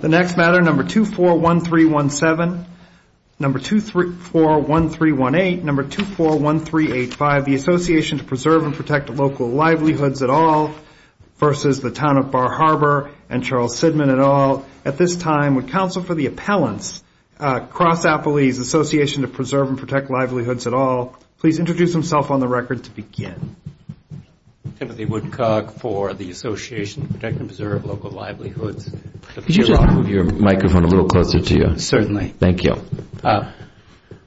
The next matter, number 241317, number 241318, number 241385, the Association to Preserve and Protect Local Livelihoods et al. versus the Town of Bar Harbor and Charles Sidman et al. At this time, would counsel for the appellants, Cross-Appley's Association to Preserve and Protect Livelihoods et al. please introduce themselves on the record to begin. Timothy Woodcock for the Association to Protect and Preserve Local Livelihoods et al. Could you just move your microphone a little closer to you? Certainly. Thank you.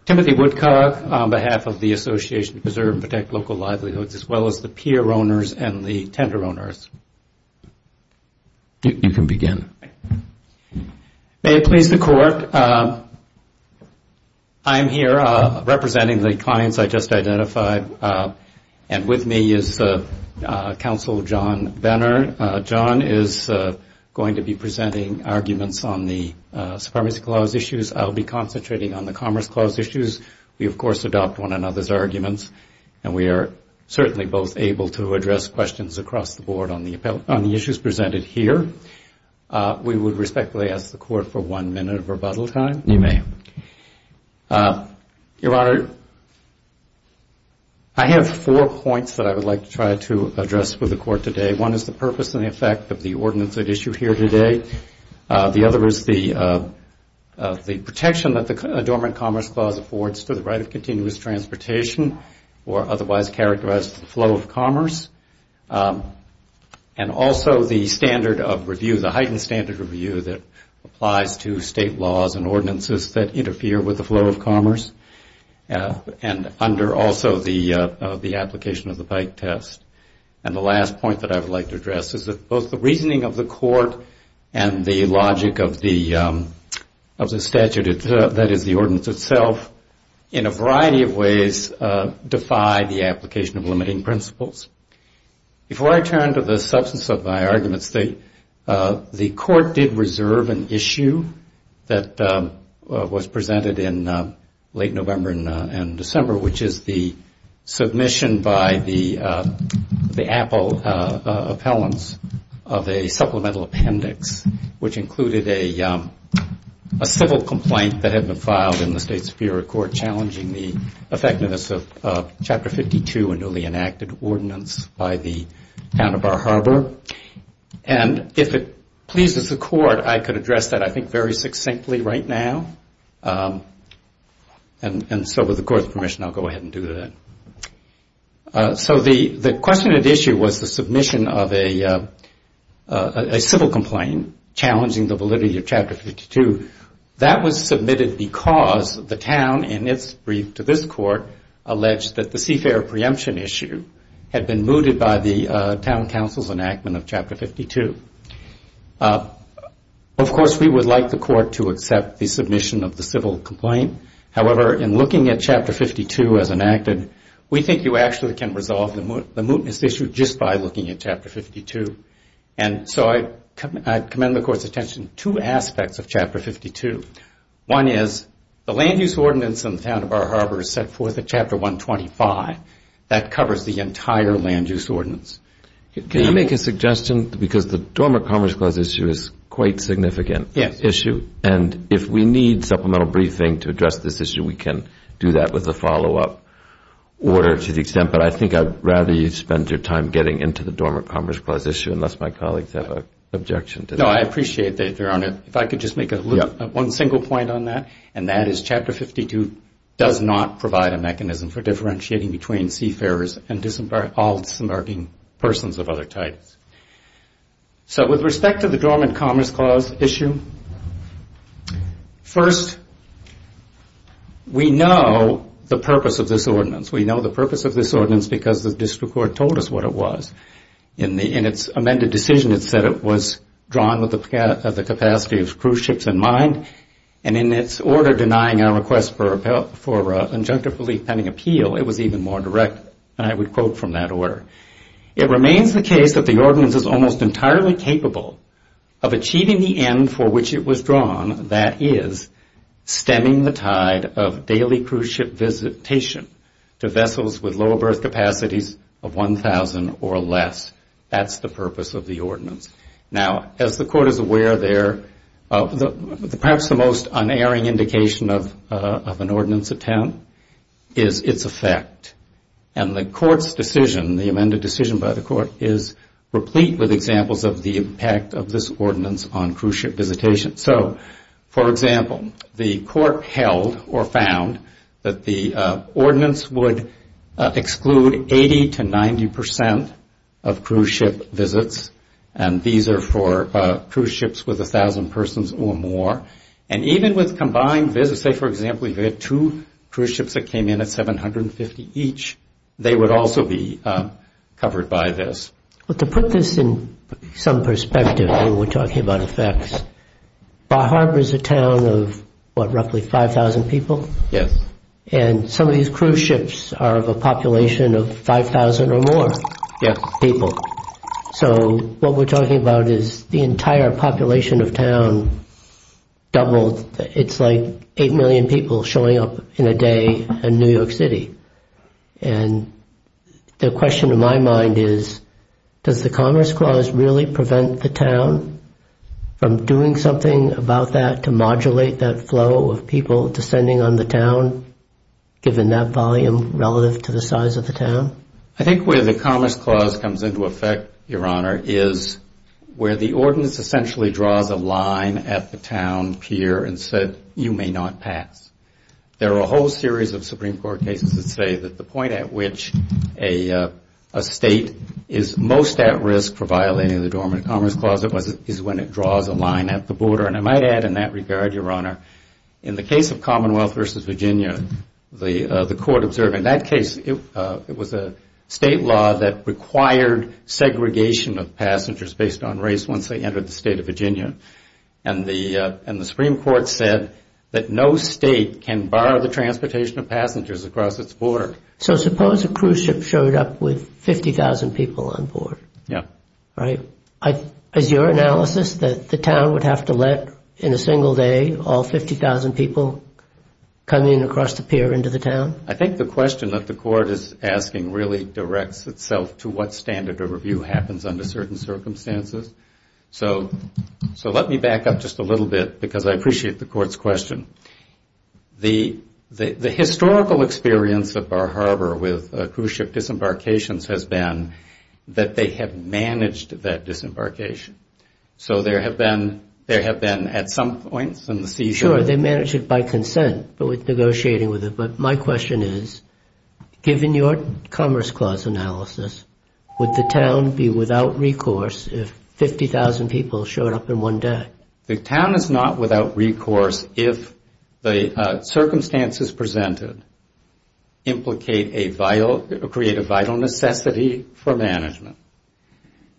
Timothy Woodcock on behalf of the Association to Preserve and Protect Local Livelihoods as well as the Peer Owners and the Tender Owners. You can begin. May it please the Court, I'm here representing the clients I just identified, and with me is the counsel, John Benner. John is going to be presenting arguments on the Supremacy Clause issues. I'll be concentrating on the Commerce Clause issues. We, of course, adopt one another's arguments, and we are certainly both able to address questions across the board on the issues presented here. We would respectfully ask the Court for one minute of rebuttal time. You may. Your Honor, I have four points that I would like to try to address for the Court today. One is the purpose and effect of the ordinance at issue here today. The other is the protection that the Adornment Commerce Clause affords for the right of continuous transportation or otherwise characterized flow of commerce, and also the standard of review, the heightened standard of review that applies to state laws and ordinances that interfere with the flow of commerce, and under also the application of the bike test. And the last point that I would like to address is that both the reasoning of the Court and the logic of the statute that is the ordinance itself, in a variety of ways, defy the application of limiting principles. Before I turn to the substance of my arguments, the Court did reserve an issue that was presented in late November and December, which is the submission by the Apple appellants of a supplemental appendix, which included a civil complaint that had been filed in the State Superior Court challenging the effectiveness of Chapter 52, a newly enacted ordinance by the Town of Bar Harbor. And if it pleases the Court, I could address that, I think, very succinctly right now. And so with the Court's permission, I'll go ahead and do that. So the question of the issue was the submission of a civil complaint challenging the validity of Chapter 52. That was submitted because the Town, in its brief to this Court, alleged that the seafare preemption issue had been mooted by the Town Council's enactment of Chapter 52. Of course, we would like the Court to accept the submission of the civil complaint. However, in looking at Chapter 52 as enacted, we think you actually can resolve the mootness issue just by looking at Chapter 52. And so I commend the Court's attention to two aspects of Chapter 52. One is the land-use ordinance in the Town of Bar Harbor is set forth at Chapter 125. That covers the entire land-use ordinance. Can I make a suggestion? Because the Dormant Commerce Clause issue is quite a significant issue. And if we need supplemental briefing to address this issue, we can do that with the follow-up order to the extent. But I think I'd rather you spend your time getting into the Dormant Commerce Clause issue, unless my colleagues have an objection to that. No, I appreciate that, Your Honor. If I could just make one single point on that, and that is Chapter 52 does not provide a mechanism for differentiating between seafarers and all disembarking persons of other types. So with respect to the Dormant Commerce Clause issue, first, we know the purpose of this ordinance. We know the purpose of this ordinance because the District Court told us what it was. In its amended decision, it said it was drawn with the capacity of cruise ships and mines. And in its order denying our request for injunctive relief pending appeal, it was even more direct, and I would quote from that order. It remains the case that the ordinance is almost entirely capable of achieving the end for which it was drawn, that is stemming the tide of daily cruise ship visitation to vessels with lower berth capacities of 1,000 or less. That's the purpose of the ordinance. Now, as the Court is aware there, perhaps the most unerring indication of an ordinance attempt is its effect. And the Court's decision, the amended decision by the Court, is replete with examples of the impact of this ordinance on cruise ship visitation. So, for example, the Court held or found that the ordinance would exclude 80 to 90 percent of cruise ship visits, and these are for cruise ships with 1,000 persons or more. And even with combined visits, say, for example, you had two cruise ships that came in at 750 each, they would also be covered by this. Well, to put this in some perspective when we're talking about effects, Bar Harbor is a town of, what, roughly 5,000 people? Yes. And some of these cruise ships are of a population of 5,000 or more? Yes, people. So what we're talking about is the entire population of town doubled. It's like 8 million people showing up in a day in New York City. And the question in my mind is, does the Commerce Clause really prevent the town from doing something about that to modulate that flow of people descending on the town, given that volume relative to the size of the town? I think where the Commerce Clause comes into effect, Your Honor, is where the ordinance essentially draws a line at the town pier and says, you may not pass. There are a whole series of Supreme Court cases that say that the point at which a state is most at risk for violating the Dormant Commerce Clause is when it draws a line at the border. And I might add in that regard, Your Honor, in the case of Commonwealth versus Virginia, the court observed in that case it was a state law that required segregation of passengers based on race once they entered the state of Virginia. And the Supreme Court said that no state can bar the transportation of passengers across its border. So suppose a cruise ship showed up with 50,000 people on board. Yes. Right. Is your analysis that the town would have to let, in a single day, all 50,000 people come in across the pier into the town? I think the question that the court is asking really directs itself to what standard of review happens under certain circumstances. So let me back up just a little bit because I appreciate the court's question. The historical experience of Bar Harbor with cruise ship disembarkations has been that they have managed that disembarkation. So there have been, at some point, seizures. Sure, they managed it by consent with negotiating with it. But my question is, given your Commerce Clause analysis, would the town be without recourse if 50,000 people showed up in one day? The town is not without recourse if the circumstances presented implicate a vital necessity for management.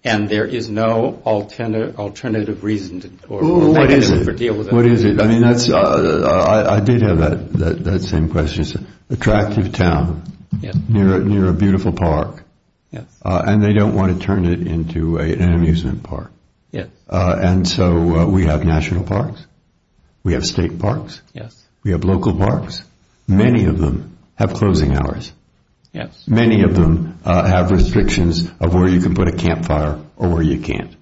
And there is no alternative reason to deal with it. What is it? I did have that same question. It's an attractive town near a beautiful park, and they don't want to turn it into an amusement park. And so we have national parks, we have state parks, we have local parks. Many of them have closing hours. Many of them have restrictions of where you can put a campfire or where you can't.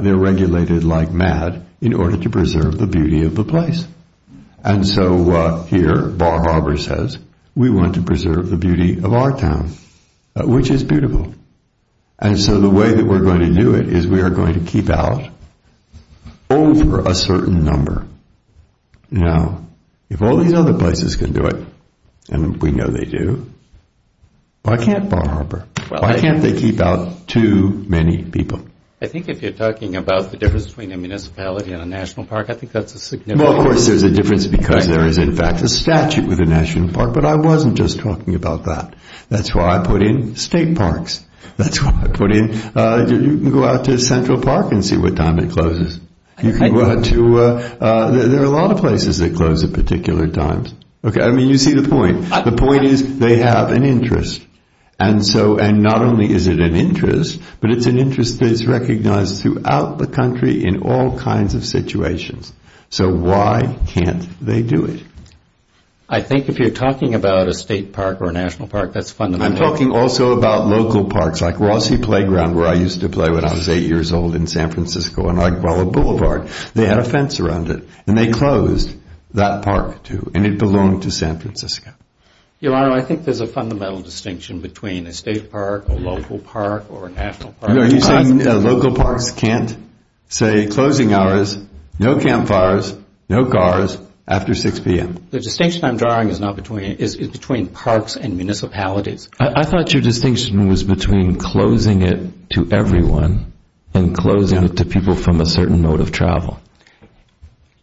They're regulated like mad in order to preserve the beauty of the place. And so here, Bar Harbor says, we want to preserve the beauty of our town, which is beautiful. And so the way that we're going to do it is we are going to keep out over a certain number. Now, if all these other places can do it, and we know they do, why can't Bar Harbor? Why can't they keep out too many people? I think if you're talking about the difference between a municipality and a national park, I think that's a significant difference. Well, of course, there's a difference because there is, in fact, a statute with a national park. But I wasn't just talking about that. That's why I put in state parks. That's why I put in, you can go out to Central Park and see what time it closes. You can go out to, there are a lot of places that close at particular times. I mean, you see the point. The point is they have an interest. And not only is it an interest, but it's an interest that is recognized throughout the country in all kinds of situations. So why can't they do it? I think if you're talking about a state park or a national park, that's fundamental. I'm talking also about local parks, like Rossy Playground, where I used to play when I was 8 years old in San Francisco, and like Ballard Boulevard, they had a fence around it. And they closed that park too, and it belonged to San Francisco. Your Honor, I think there's a fundamental distinction between a state park, a local park, or a national park. Are you saying a local park can't say closing hours, no campfires, no cars, after 6 p.m.? The distinction I'm drawing is between parks and municipalities. I thought your distinction was between closing it to everyone and closing it to people from a certain mode of travel.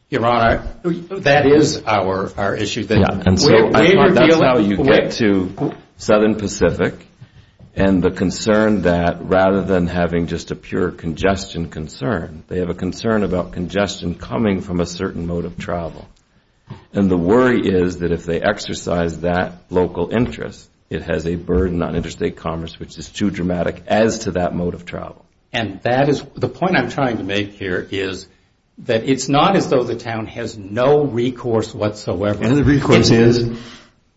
Your Honor, that is our issue. That's how you get to Southern Pacific. And the concern that rather than having just a pure congestion concern, they have a concern about congestion coming from a certain mode of travel. And the worry is that if they exercise that local interest, it has a burden on interstate commerce, which is too dramatic as to that mode of travel. The point I'm trying to make here is that it's not as though the town has no recourse whatsoever. And the recourse is?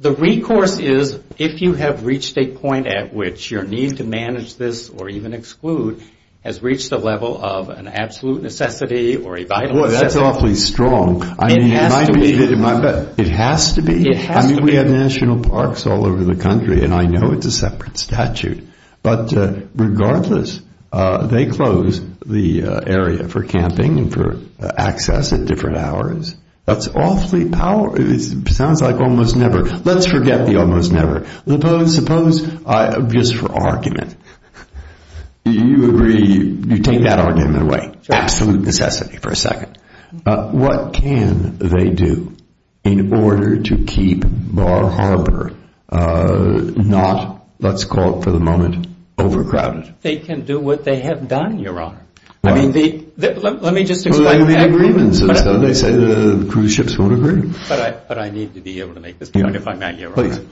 The recourse is if you have reached a point at which your need to manage this or even exclude has reached the level of an absolute necessity or a vital necessity. Boy, that's awfully strong. It has to be. It has to be. I mean, we have national parks all over the country, and I know it's a separate statute. But regardless, they close the area for camping and for access at different hours. That's awfully powerful. It sounds like almost never. Let's forget the almost never. Suppose, just for argument, you agree, you take that argument away. It's an absolute necessity for a second. But what can they do in order to keep the harbor not, let's call it for the moment, overcrowded? They can do what they have done, Your Honor. I mean, let me just explain. Well, they made agreements. They say the cruise ships won't agree. But I need to be able to make this point if I may, Your Honor. Please.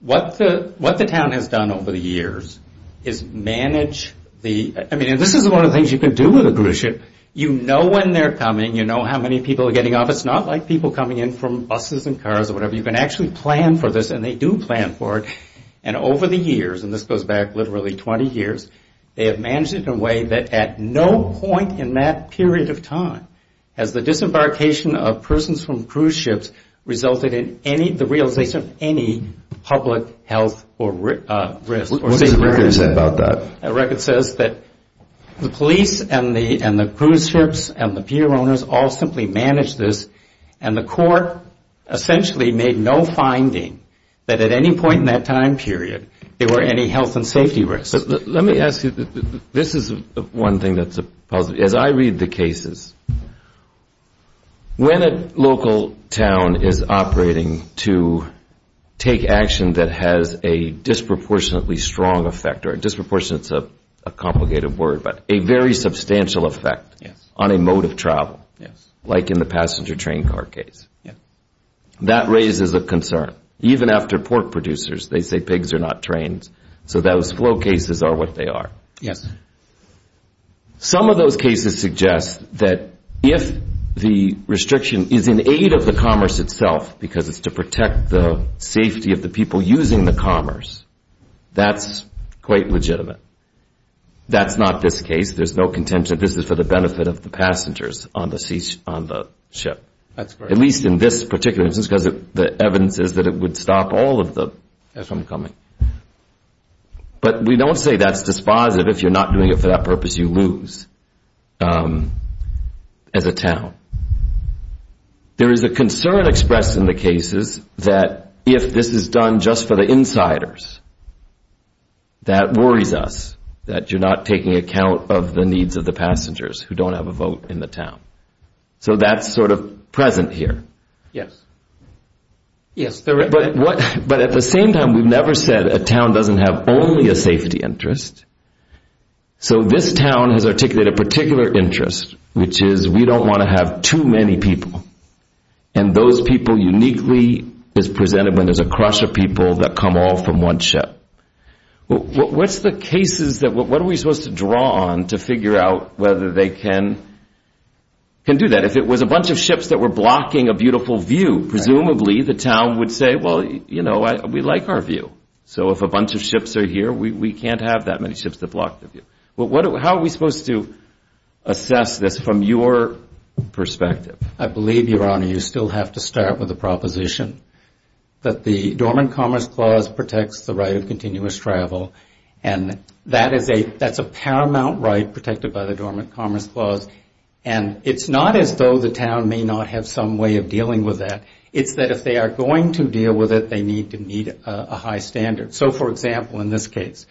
What the town has done over the years is manage the – I mean, this is one of the things you can do with a cruise ship. You know when they're coming. You know how many people are getting on. But it's not like people coming in from buses and cars or whatever. You can actually plan for this, and they do plan for it. And over the years, and this goes back literally 20 years, they have managed it in a way that at no point in that period of time has the disembarkation of persons from cruise ships resulted in the realization of any public health risk. What does the record say about that? The record says that the police and the cruise ships and the pier owners all simply managed this, and the court essentially made no finding that at any point in that time period there were any health and safety risks. Let me ask you. This is one thing that's a positive. As I read the cases, when a local town is operating to take action that has a disproportionately strong effect or disproportionately is a complicated word, but a very substantial effect on a mode of travel, like in the passenger train car case, that raises a concern. Even after pork producers, they say pigs are not trained, so those flow cases are what they are. Some of those cases suggest that if the restriction is in aid of the commerce itself because it's to protect the safety of the people using the commerce, that's quite legitimate. That's not this case. There's no contention. This is for the benefit of the passengers on the ship, at least in this particular instance because the evidence is that it would stop all of them from coming. But we don't say that's dispositive. If you're not doing it for that purpose, you lose as a town. There is a concern expressed in the cases that if this is done just for the insiders, that worries us that you're not taking account of the needs of the passengers who don't have a vote in the town. So that's sort of present here. Yes. But at the same time, we've never said a town doesn't have only a safety interest. So this town has articulated a particular interest, which is we don't want to have too many people, and those people uniquely is presented when there's a crush of people that come all from one ship. What are we supposed to draw on to figure out whether they can do that? If it was a bunch of ships that were blocking a beautiful view, presumably the town would say, well, you know, we like our view. So if a bunch of ships are here, we can't have that many ships that block the view. How are we supposed to assess this from your perspective? I believe, Your Honor, you still have to start with a proposition that the Dormant Commerce Clause protects the right of continuous travel, and that's a paramount right protected by the Dormant Commerce Clause. And it's not as though the town may not have some way of dealing with that. It's that if they are going to deal with it, they need to meet a high standard. So, for example, in this case,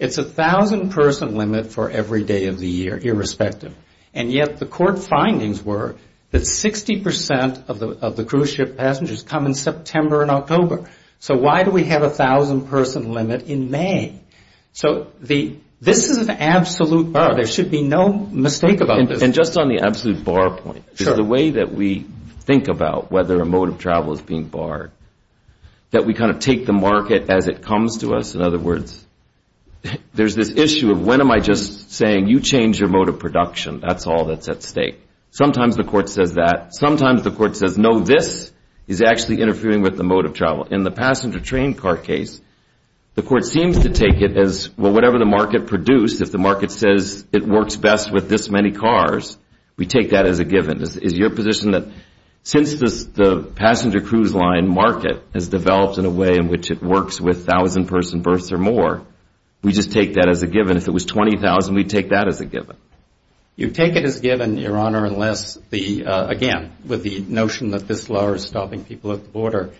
it's a 1,000-person limit for every day of the year, irrespective. And yet the court findings were that 60% of the cruise ship passengers come in September and October. So why do we have a 1,000-person limit in May? So this is an absolute bar. There should be no mistake about this. And just on the absolute bar point, the way that we think about whether a mode of travel is being barred, that we kind of take the market as it comes to us. In other words, there's this issue of when am I just saying, you change your mode of production, that's all that's at stake. Sometimes the court says that. Sometimes the court says, no, this is actually interfering with the mode of travel. In the passenger train car case, the court seems to take it as, well, whatever the market produced, if the market says it works best with this many cars, we take that as a given. Is your position that since the passenger cruise line market has developed in a way in which it works with 1,000-person berths or more, we just take that as a given? If it was 20,000, we'd take that as a given? You take it as given, Your Honor, unless the – again, with the notion that this law is stopping people at the border.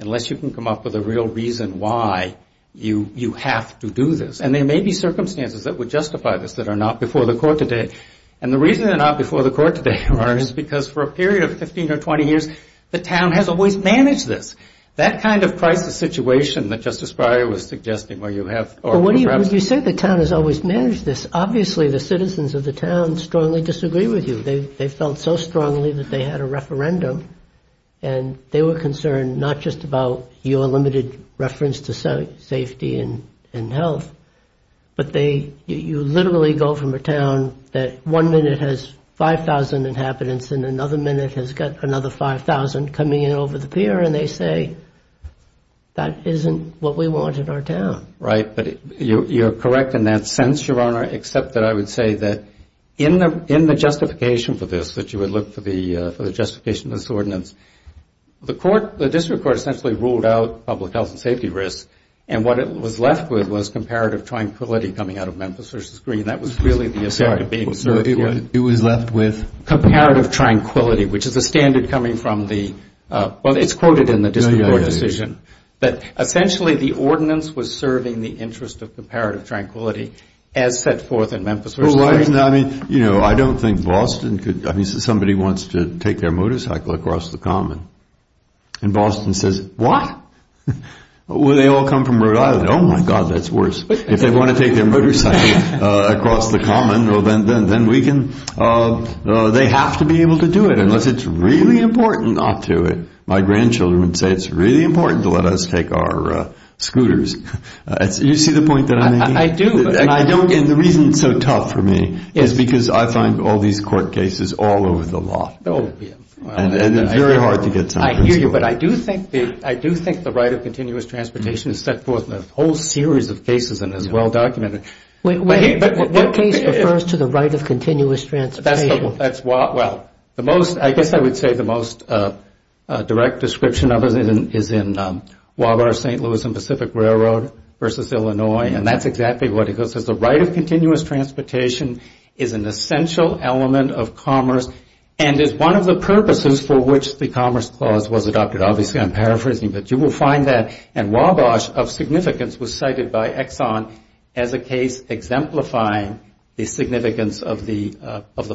Unless you can come up with a real reason why you have to do this. And there may be circumstances that would justify this that are not before the court today. And the reason they're not before the court today, Your Honor, is because for a period of 15 or 20 years, the town has always managed this. That kind of crisis situation that Justice Breyer was suggesting where you have – Well, when you say the town has always managed this, obviously the citizens of the town strongly disagree with you. They felt so strongly that they had a referendum. And they were concerned not just about your limited reference to safety and health, but they – you literally go from a town that one minute has 5,000 inhabitants and another minute has got another 5,000 coming in over the pier, and they say, that isn't what we want in our town. Right, but you're correct in that sense, Your Honor, except that I would say that in the justification for this, that you would look for the justification of this ordinance, the district court essentially ruled out public health and safety risks. And what it was left with was comparative tranquility coming out of Memphis v. Green. That was really the – It was left with? Comparative tranquility, which is a standard coming from the – well, it's quoted in the district court decision. But essentially, the ordinance was serving the interest of comparative tranquility as set forth in Memphis v. Green. You know, I don't think Boston could – I mean, somebody wants to take their motorcycle across the common. And Boston says, what? Well, they all come from Rhode Island. Oh, my God, that's worse. If they want to take their motorcycle across the common, well, then we can – they have to be able to do it, unless it's really important not to. My grandchildren would say, it's really important to let us take our scooters. Do you see the point that I'm making? I do. And the reason it's so tough for me is because I find all these court cases all over the law. Oh, yes. And it's very hard to get something through. I hear you. But I do think the right of continuous transportation is set forth in a whole series of cases and is well-documented. What case refers to the right of continuous transportation? Well, I guess I would say the most direct description of it is in Wabash-St. Louis and Pacific Railroad v. Illinois. And that's exactly what it is. The right of continuous transportation is an essential element of commerce and is one of the purposes for which the Commerce Clause was adopted. Obviously, I'm paraphrasing, but you will find that. And Wabash, of significance, was cited by Exxon as a case exemplifying the significance of the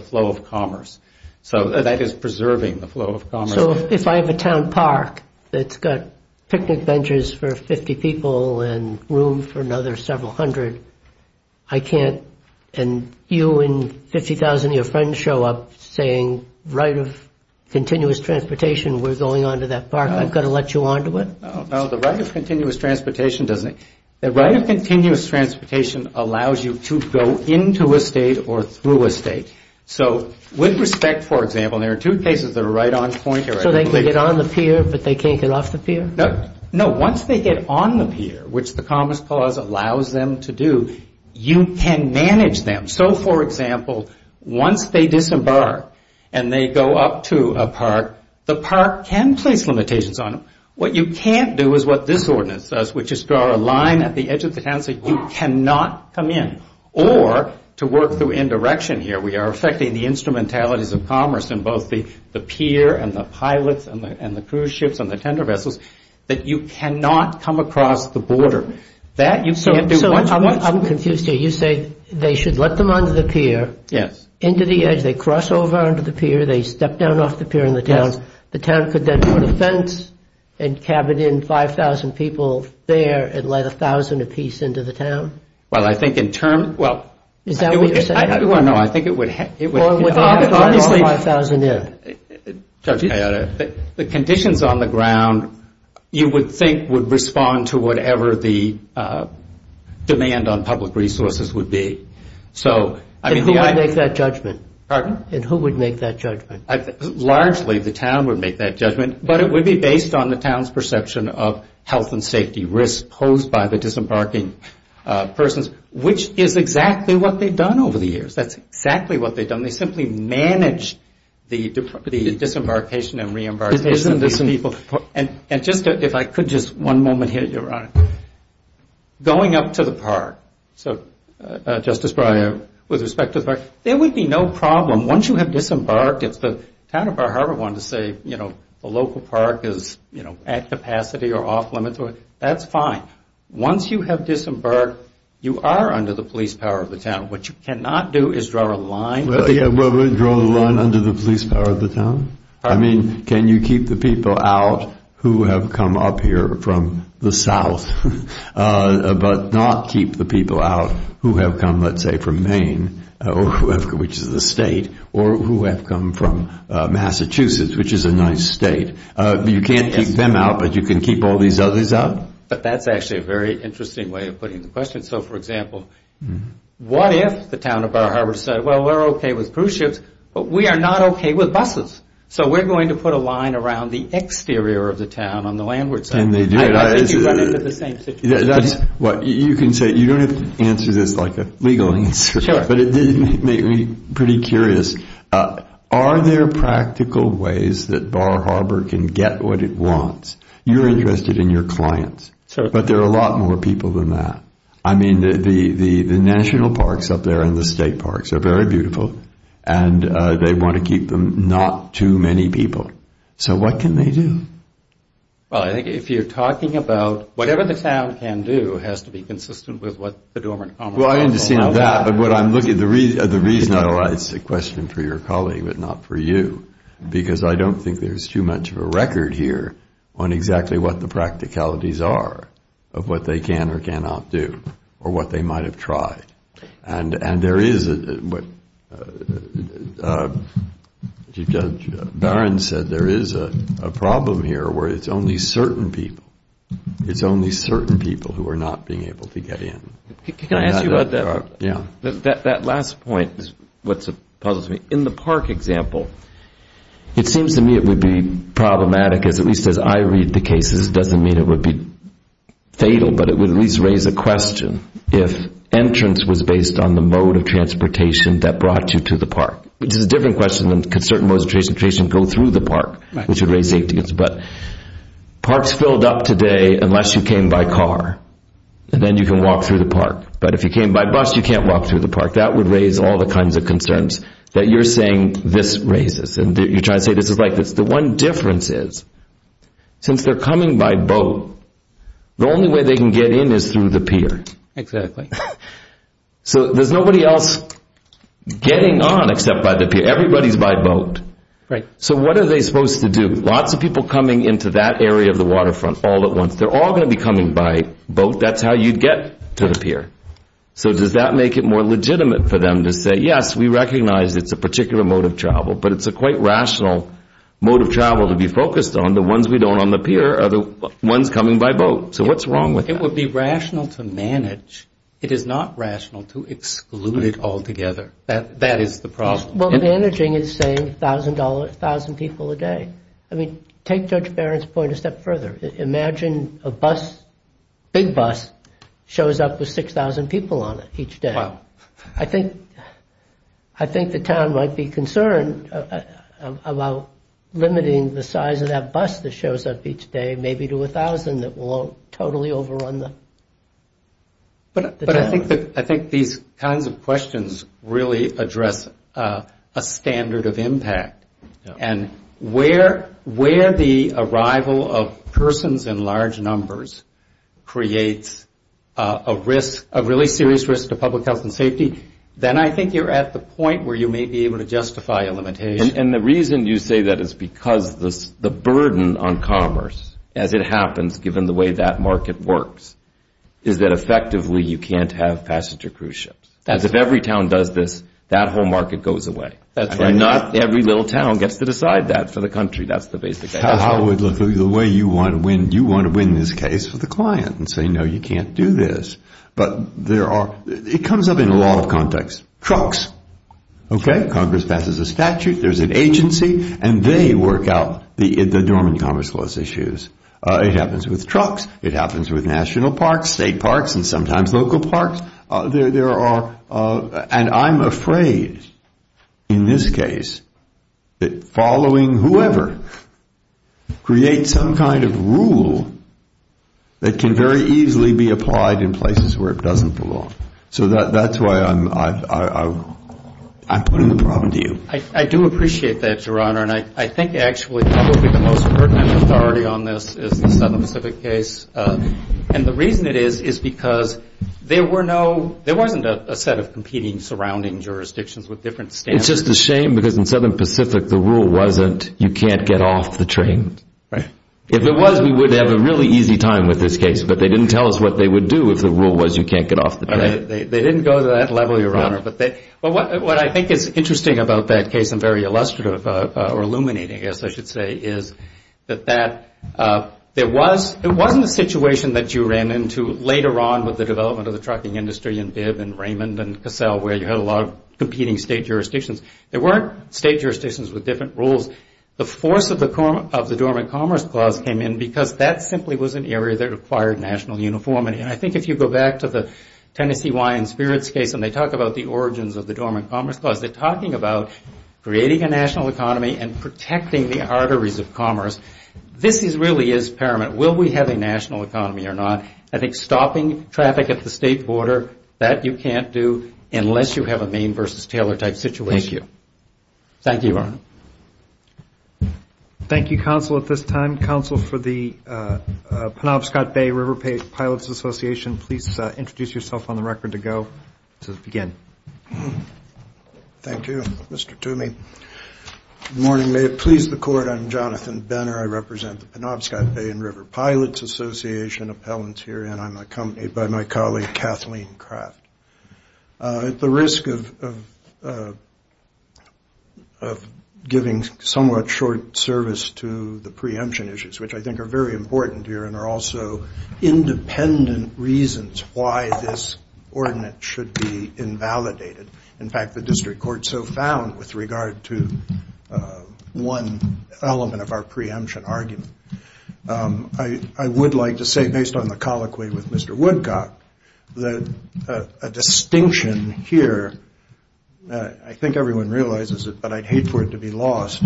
flow of commerce. So that is preserving the flow of commerce. So if I have a town park that's got picnic benches for 50 people and room for another several hundred, I can't, and you and 50,000 of your friends show up saying right of continuous transportation, we're going on to that park, I've got to let you onto it? No, the right of continuous transportation allows you to go into a state or through a state. So with respect, for example, there are two cases that are right on point. So they can get on the pier, but they can't get off the pier? No, once they get on the pier, which the Commerce Clause allows them to do, you can manage them. So, for example, once they disembark and they go up to a park, the park can face limitations on them. What you can't do is what this ordinance does, which is draw a line at the edge of the town so you cannot come in. Or, to work through indirection here, we are affecting the instrumentalities of commerce in both the pier and the pilots and the cruise ships and the tender vessels, that you cannot come across the border. So I'm confused here. You say they should let them onto the pier, into the edge, they cross over onto the pier, they step down off the pier in the town, the town could then fence and cabin in 5,000 people there and let 1,000 apiece into the town? Well, I think in terms, well... Is that what you're saying? No, I think it would... Or let 1,000 in. The conditions on the ground, you would think, would respond to whatever the demand on public resources would be. And who would make that judgment? Pardon? And who would make that judgment? Largely, the town would make that judgment, but it would be based on the town's perception of health and safety risks posed by the disembarking persons, which is exactly what they've done over the years. That's exactly what they've done. They simply manage the disembarkation and reembarkation of these people. And just, if I could just one moment here, Your Honor. Going up to the park, so Justice Breyer, with respect to the park, there would be no problem. Once you have disembarked, if the town of Bar Harbor wanted to say, you know, the local park is at capacity or off limits, that's fine. Once you have disembarked, you are under the police power of the town. What you cannot do is draw a line. Well, draw a line under the police power of the town? I mean, can you keep the people out who have come up here from the south, but not keep the people out who have come, let's say, from Maine, which is a state, or who have come from Massachusetts, which is a nice state. You can't keep them out, but you can keep all these others out? But that's actually a very interesting way of putting the question. So, for example, what if the town of Bar Harbor said, well, we're okay with cruise ships, but we are not okay with buses? So we're going to put a line around the exterior of the town on the landward side. And they do that. If you run into the same situation. You can say, you don't have to answer this like a legal answer, but it did make me pretty curious. Are there practical ways that Bar Harbor can get what it wants? You're interested in your clients. But there are a lot more people than that. I mean, the national parks up there and the state parks are very beautiful, and they want to keep them not too many people. So what can they do? Well, I think if you're talking about whatever the town can do, it has to be consistent with what the dormant commonwealth can do. Well, I understand that. But I'm looking at the reason I raised the question for your colleague, but not for you. Because I don't think there's too much of a record here on exactly what the practicalities are of what they can or cannot do or what they might have tried. And there is, as Judge Barron said, there is a problem here where it's only certain people. It's only certain people who are not being able to get in. Can I ask you about that? That last point puzzles me. In the park example, it seems to me it would be problematic, at least as I read the cases, it doesn't mean it would be fatal, but it would at least raise a question if entrance was based on the mode of transportation that brought you to the park. Which is a different question than could certain modes of transportation go through the park, which would raise safety concerns. But parks filled up today unless you came by car, and then you can walk through the park. But if you came by bus, you can't walk through the park. That would raise all the kinds of concerns that you're saying this raises. And you're trying to say this is like this. The one difference is since they're coming by boat, the only way they can get in is through the pier. So there's nobody else getting on except by the pier. Everybody's by boat. Right. So what are they supposed to do? Lots of people coming into that area of the waterfront all at once. They're all going to be coming by boat. That's how you get to the pier. So does that make it more legitimate for them to say, yes, we recognize it's a particular mode of travel, but it's a quite rational mode of travel to be focused on. The ones we don't on the pier are the ones coming by boat. So what's wrong with that? It would be rational to manage. It is not rational to exclude it altogether. That is the problem. Well, managing is saying 1,000 people a day. I mean, take Judge Barron's point a step further. Imagine a bus, big bus, shows up with 6,000 people on it each day. Wow. I think the town might be concerned about limiting the size of that bus that shows up each day maybe to 1,000 that will totally overrun the town. I think these kinds of questions really address a standard of impact. And where the arrival of persons in large numbers creates a risk, a really serious risk to public health and safety, then I think you're at the point where you may be able to justify a limitation. And the reason you say that is because the burden on commerce, as it happens given the way that market works, is that effectively you can't have passenger cruise ships. As if every town does this, that whole market goes away. And not every little town gets to decide that for the country. That's the basic case. I would look at it the way you want to win this case for the client and say, no, you can't do this. But it comes up in a lot of contexts. Trucks, okay, Congress passes a statute, there's an agency, and they work out the dormant commerce flows issues. It happens with trucks. It happens with national parks, state parks, and sometimes local parks. And I'm afraid in this case that following whoever creates some kind of rule that can very easily be applied in places where it doesn't belong. So that's why I'm putting the problem to you. I do appreciate that, Your Honor, and I think actually probably the most pertinent authority on this is the Southern Pacific case. And the reason it is is because there wasn't a set of competing surrounding jurisdictions with different standards. It's just a shame because in Southern Pacific the rule wasn't you can't get off the train. If it was, we would have a really easy time with this case, but they didn't tell us what they would do if the rule was you can't get off the train. They didn't go to that level, Your Honor. What I think is interesting about that case and very illustrative or illuminating, I guess I should say, is that there wasn't a situation that you ran into later on with the development of the trucking industry in Bibb and Raymond and Cassell where you had a lot of competing state jurisdictions. There weren't state jurisdictions with different rules. The force of the dormant commerce clause came in because that simply was an area that required national uniformity. And I think if you go back to the Tennessee, Illinois and Spirits case and they talk about the origins of the dormant commerce clause, they're talking about creating a national economy and protecting the arteries of commerce. This really is paramount. Will we have a national economy or not? I think stopping traffic at the state border, that you can't do unless you have a Maine versus Taylor type situation. Thank you, Your Honor. Thank you, counsel, at this time. Counsel for the Penobscot Bay River Pilots Association, please introduce yourself on the record to go. Let's begin. Thank you, Mr. Toomey. Good morning. May it please the court, I'm Jonathan Benner. I represent the Penobscot Bay and River Pilots Association appellants here and I'm accompanied by my colleague Kathleen Kraft. At the risk of giving somewhat short service to the preemption issues, which I think are very important here and are also independent reasons why this ordinance should be invalidated. In fact, the district court so found with regard to one element of our preemption argument. I would like to say, based on the colloquy with Mr. Woodcock, that a distinction here, I think everyone realizes it, but I'd hate for it to be lost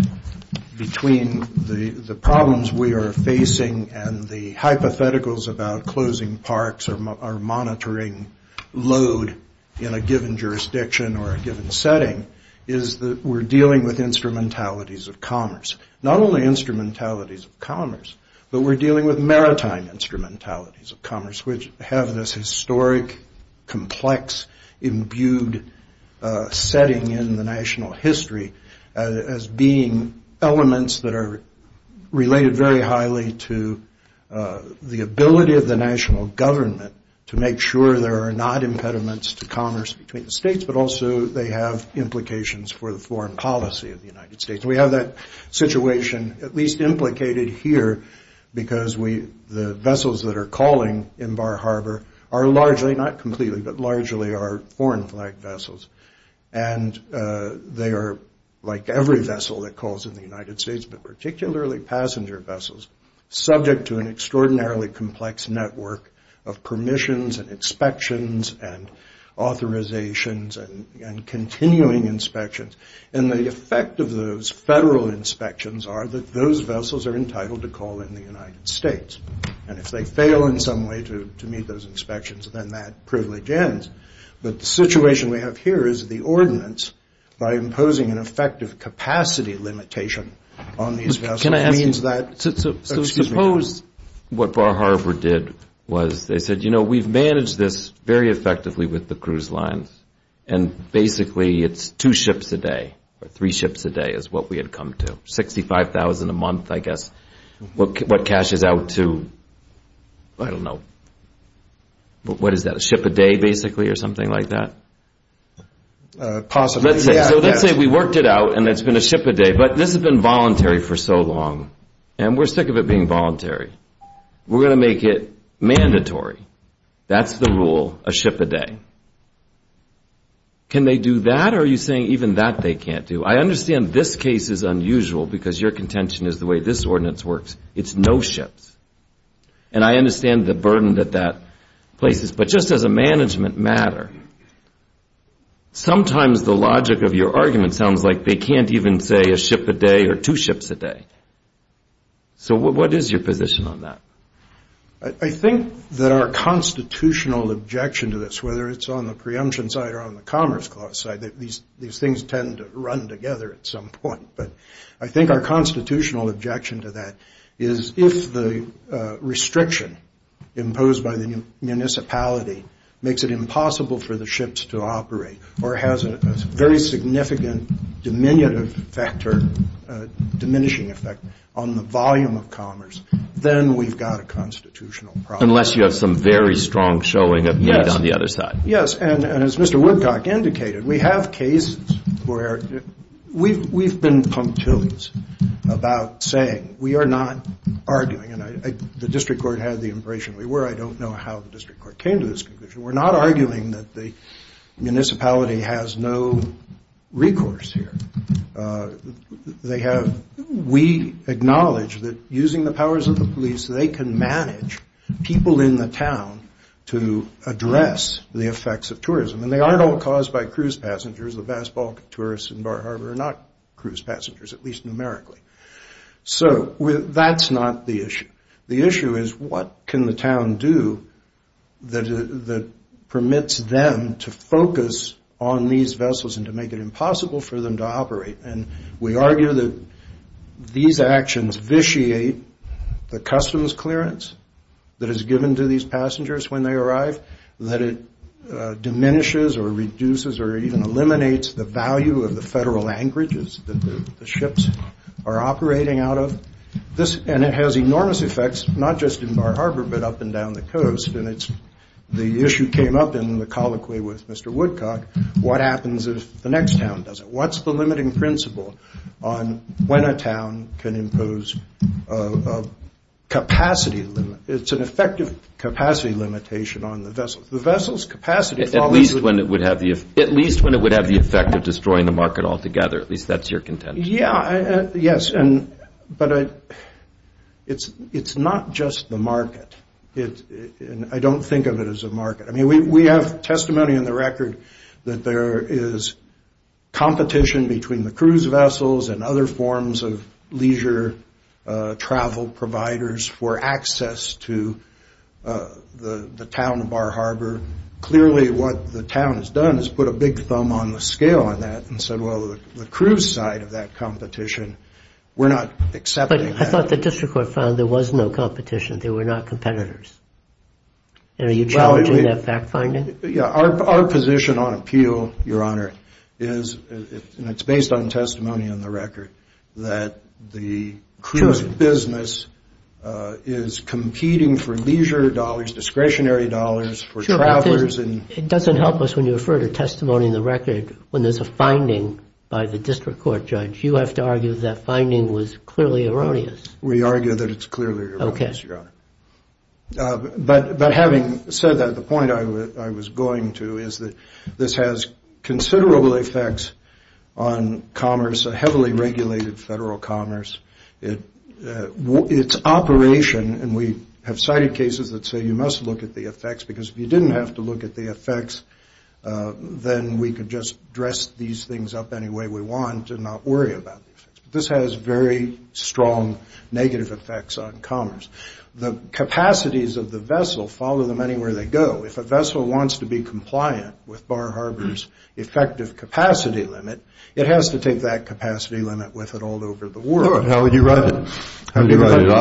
between the problems we are facing and the hypotheticals about closing parks or monitoring load in a given jurisdiction or a given setting is that we're dealing with instrumentalities of commerce. Not only instrumentalities of commerce, but we're dealing with maritime instrumentalities of commerce, which have this historic, complex, imbued setting in the national history as being elements that are related very highly to the ability of the national government to make sure there are not impediments to commerce between the states, but also they have implications for the foreign policy of the United States. We have that situation at least implicated here because the vessels that are calling in Bar Harbor are largely, not completely, but largely are foreign flag vessels. And they are, like every vessel that calls in the United States, but particularly passenger vessels, subject to an extraordinarily complex network of permissions and inspections and authorizations and continuing inspections, and the effect of those federal inspections are that those vessels are entitled to call in the United States. And if they fail in some way to meet those inspections, then that privilege ends. But the situation we have here is the ordinance, by imposing an effective capacity limitation on these vessels means that those supposed... What Bar Harbor did was they said, you know, we've managed this very effectively with the cruise lines, and basically it's two ships a day, or three ships a day is what we had come to, 65,000 a month, I guess. What cashes out to, I don't know, what is that, a ship a day basically or something like that? Possibly. Let's say we worked it out and it's been a ship a day, but this has been voluntary for so long and we're sick of it being voluntary. We're going to make it mandatory. That's the rule, a ship a day. Can they do that or are you saying even that they can't do? I understand this case is unusual because your contention is the way this ordinance works, it's no ships. And I understand the burden that that places. But just as a management matter, sometimes the logic of your argument sounds like they can't even say a ship a day or two ships a day. So what is your position on that? I think that our constitutional objection to this, whether it's on the preemption side or on the commerce side, these things tend to run together at some point. But I think our constitutional objection to that is if the restriction imposed by the municipality makes it impossible for the ships to operate or has a very significant diminishing effect on the volume of commerce, then we've got a constitutional problem. Unless you have some very strong showing of debt on the other side. Yes. And as Mr. Woodcock indicated, we have cases where we've been punctilious about saying we are not arguing. And the district court had the impression we were. I don't know how the district court came to this conclusion. We're not arguing that the municipality has no recourse here. We acknowledge that using the powers of the police, they can manage people in the town to address the effects of tourism. And they aren't all caused by cruise passengers. The basketball tourists in Bar Harbor are not cruise passengers, at least numerically. So that's not the issue. The issue is what can the town do that permits them to focus on these vessels and to make it impossible for them to operate. And we argue that these actions vitiate the customs clearance that is given to these passengers when they arrive, that it diminishes or reduces or even eliminates the value of the federal anchorages that the ships are operating out of. And it has enormous effects, not just in Bar Harbor, but up and down the coast. And the issue came up in the colloquy with Mr. Woodcock, what happens if the next town does it? What's the limiting principle on when a town can impose a capacity limit? It's an effective capacity limitation on the vessels. At least when it would have the effect of destroying the market altogether, at least that's your contention. Yes, but it's not just the market. I don't think of it as a market. We have testimony in the record that there is competition between the cruise to the town of Bar Harbor. Clearly what the town has done is put a big thumb on the scale on that and said, well, the cruise side of that competition, we're not accepting that. But I thought the district court found there was no competition, they were not competitors. And are you challenging that fact-finding? Yeah, our position on appeal, Your Honor, and it's based on testimony in the record, that the cruise business is competing for leisure dollars, discretionary dollars for traffickers. It doesn't help us when you refer to testimony in the record when there's a finding by the district court, Judge. You have to argue that that finding was clearly erroneous. We argue that it's clearly erroneous, Your Honor. But having said that, the point I was going to is that this has considerable effects on commerce, a heavily regulated federal commerce. Its operation, and we have cited cases that say you must look at the effects, because if you didn't have to look at the effects, then we could just dress these things up any way we want and not worry about it. This has very strong negative effects on commerce. The capacities of the vessel follow them anywhere they go. If a vessel wants to be compliant with Bar Harbor's effective capacity limit, it has to take that capacity limit with it all over the world. How would you write it? I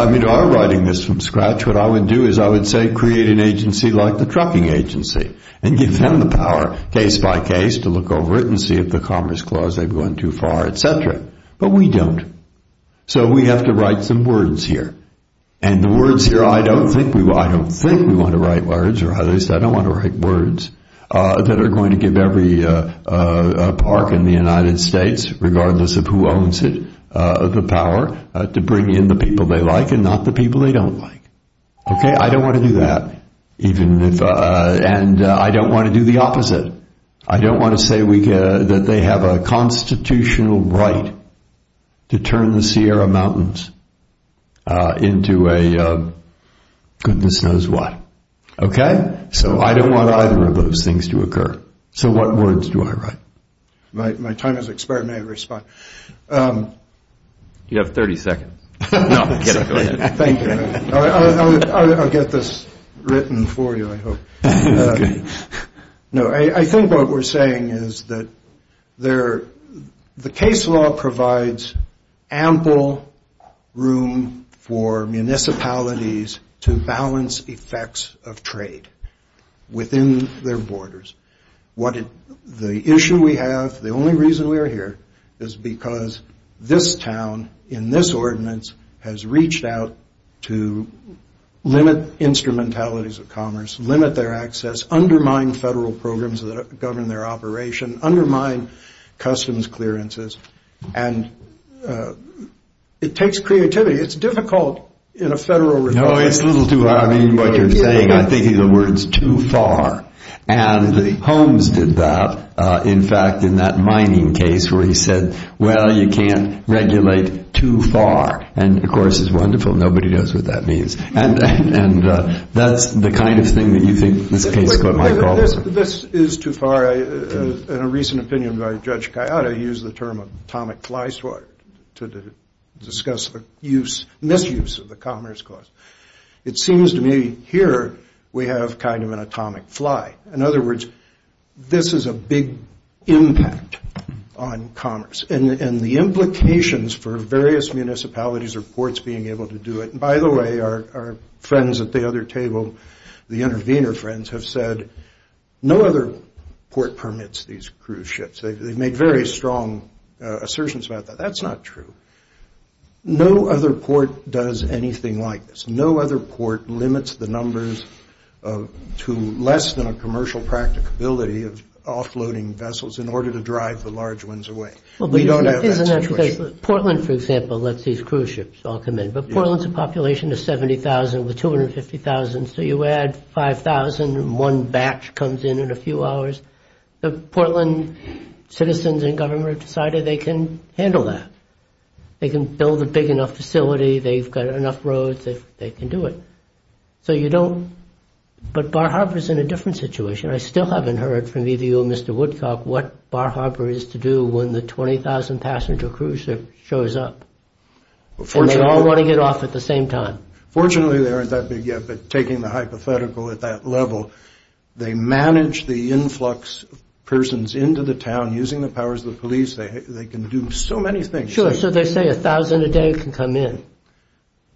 mean, I'm writing this from scratch. What I would do is I would say create an agency like the trucking agency and give them the power case by case to look over it and see if the Commerce Clause, they've gone too far, et cetera. But we don't. So we have to write some words here. And the words here, I don't think we want to write words or at least I don't want to write words that are going to give every park in the United States, regardless of who owns it, the power to bring in the people they like and not the people they don't like. I don't want to do that. And I don't want to do the opposite. I don't want to say that they have a constitutional right to turn the Sierra Mountains into a goodness knows what. Okay? So I don't want either of those things to occur. So what words do I write? My time has expired and I didn't respond. You have 30 seconds. Thank you. I'll get this written for you, I hope. No, I think what we're saying is that the case law provides ample room for municipalities to balance effects of trade within their borders. The issue we have, the only reason we're here, is because this town in this ordinance has reached out to limit instrumentalities of commerce, limit their access, undermine federal programs that govern their operation, undermine customs clearances, and it takes creativity. It's difficult in a federal regime. No, it's a little too hard. I mean, what you're saying, I'm thinking of words too far. And Holmes did that, in fact, in that mining case where he said, well, you can't regulate too far. And, of course, it's wonderful. Nobody knows what that means. And that's the kind of thing that you think is the case with my problem. This is too far. In a recent opinion by Judge Kayada, he used the term atomic fly swatter to discuss the misuse of the commerce clause. It seems to me here we have kind of an atomic fly. In other words, this is a big impact on commerce. And the implications for various municipalities or courts being able to do it, and, by the way, our friends at the other table, the intervener friends, have said no other court permits these cruise ships. They make very strong assertions about that. That's not true. No other court does anything like this. No other court limits the numbers to less than a commercial practicability of offloading vessels in order to drive the large ones away. Portland, for example, lets these cruise ships all come in. But Portland's population is 70,000 with 250,000, so you add 5,000 and one batch comes in in a few hours. The Portland citizens and government have decided they can handle that. They can build a big enough facility. They've got enough roads. They can do it. So you don't, but Bar Harbor's in a different situation. I still haven't heard from either you or Mr. Woodcock what Bar Harbor is to do when the 20,000-passenger cruise ship shows up, and they all want to get off at the same time. Fortunately, they aren't that big yet, but taking the hypothetical at that level, they manage the influx of persons into the town using the powers of the police. They can do so many things. Sure, so they say 1,000 a day can come in.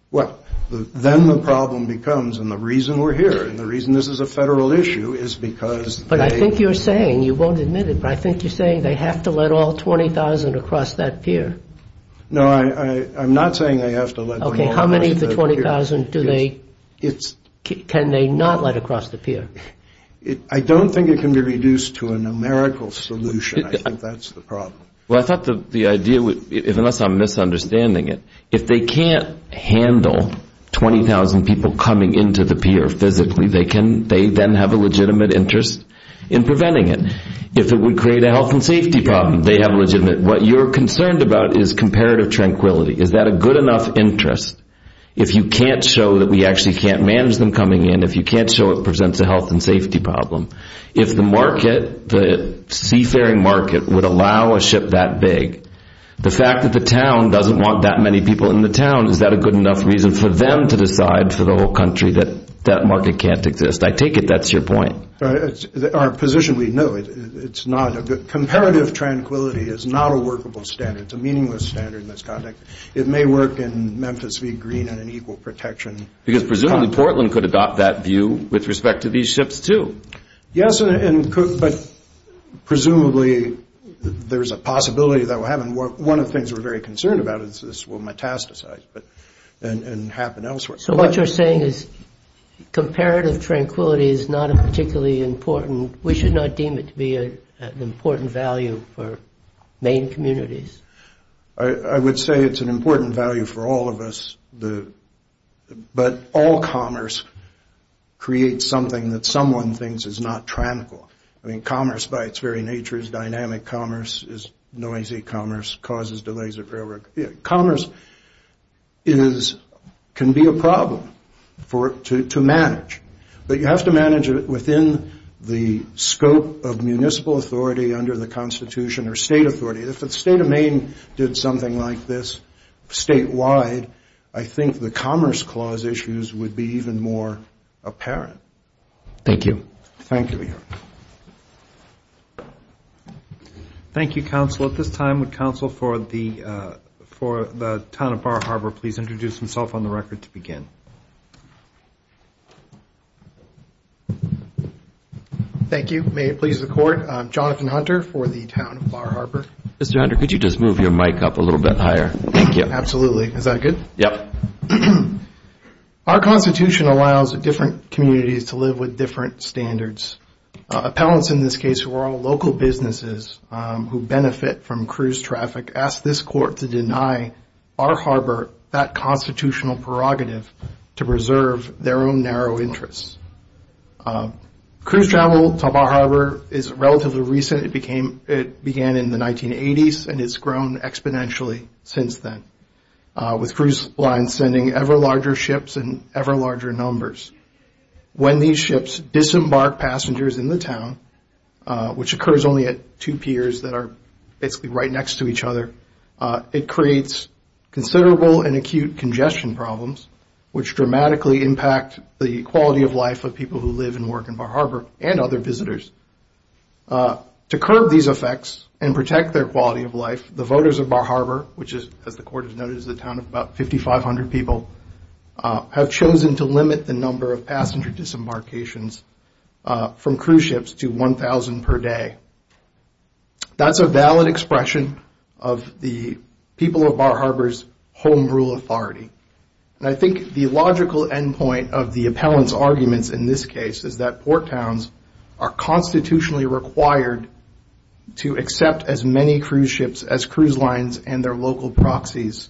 Well, then the problem becomes, and the reason we're here, and the reason this is a federal issue is because they— But I think you're saying, you won't admit it, but I think you're saying they have to let all 20,000 across that pier. No, I'm not saying they have to let 20,000 across the pier. Okay, how many of the 20,000 can they not let across the pier? I don't think it can be reduced to a numerical solution. I think that's the problem. Well, I thought the idea would—unless I'm misunderstanding it, if they can't handle 20,000 people coming into the pier physically, they then have a legitimate interest in preventing it. If it would create a health and safety problem, they have a legitimate— What you're concerned about is comparative tranquility. Is that a good enough interest? If you can't show that we actually can't manage them coming in, if you can't show it presents a health and safety problem, if the market, the seafaring market, would allow a ship that big, the fact that the town doesn't want that many people in the town, is that a good enough reason for them to decide for the whole country that that market can't exist? I take it that's your point. Our position, we know it's not— Comparative tranquility is not a workable standard. It's a meaningless standard in this context. It may work in Memphis, be green and in equal protection. Because presumably Portland could adopt that view with respect to these ships, too. Yes, but presumably there's a possibility that will happen. One of the things we're very concerned about is this will metastasize and happen elsewhere. So what you're saying is comparative tranquility is not a particularly important— we should not deem it to be an important value for main communities. I would say it's an important value for all of us. But all commerce creates something that someone thinks is not tranquil. I mean, commerce by its very nature is dynamic commerce, is noisy commerce, causes delays of railroad. Commerce can be a problem to manage. But you have to manage it within the scope of municipal authority under the Constitution or state authority. If the state of Maine did something like this statewide, I think the Commerce Clause issues would be even more apparent. Thank you. Thank you. Thank you. Thank you, Counsel. At this time, the Counsel for the Town of Bar Harbor, please introduce himself on the record to begin. Thank you. May it please the Court. I'm Jonathan Hunter for the Town of Bar Harbor. Mr. Hunter, could you just move your mic up a little bit higher? Thank you. Absolutely. Is that good? Yes. Our Constitution allows different communities to live with different standards. Appellants in this case were all local businesses who benefit from cruise traffic, asked this Court to deny Bar Harbor that constitutional prerogative to preserve their own narrow interests. Cruise travel to Bar Harbor is relatively recent. It began in the 1980s and it's grown exponentially since then. With cruise lines sending ever larger ships in ever larger numbers. When these ships disembark passengers in the town, which occurs only at two piers that are basically right next to each other, it creates considerable and acute congestion problems, which dramatically impact the quality of life of people who live and work in Bar Harbor and other visitors. To curb these effects and protect their quality of life, the voters of Bar Harbor, which the Court has noted is a town of about 5,500 people, have chosen to limit the number of passenger disembarkations from cruise ships to 1,000 per day. That's a valid expression of the people of Bar Harbor's home rule authority. I think the logical end point of the appellant's arguments in this case is that port towns are constitutionally required to accept as many cruise ships as cruise lines and their local proxies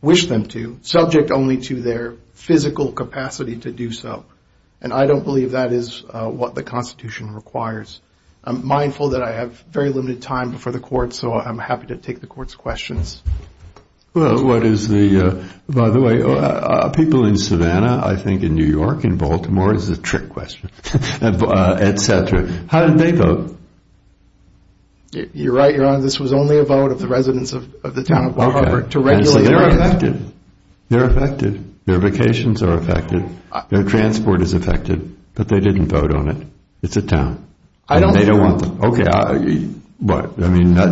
wish them to, subject only to their physical capacity to do so. And I don't believe that is what the Constitution requires. I'm mindful that I have very limited time before the Court, so I'm happy to take the Court's questions. By the way, people in Savannah, I think in New York, in Baltimore, this is a trick question, etc. How did they vote? You're right, Your Honor. This was only a vote of the residents of the town of Bar Harbor. They're affected. Their vacations are affected. Their transport is affected. But they didn't vote on it. It's a town. They don't want them.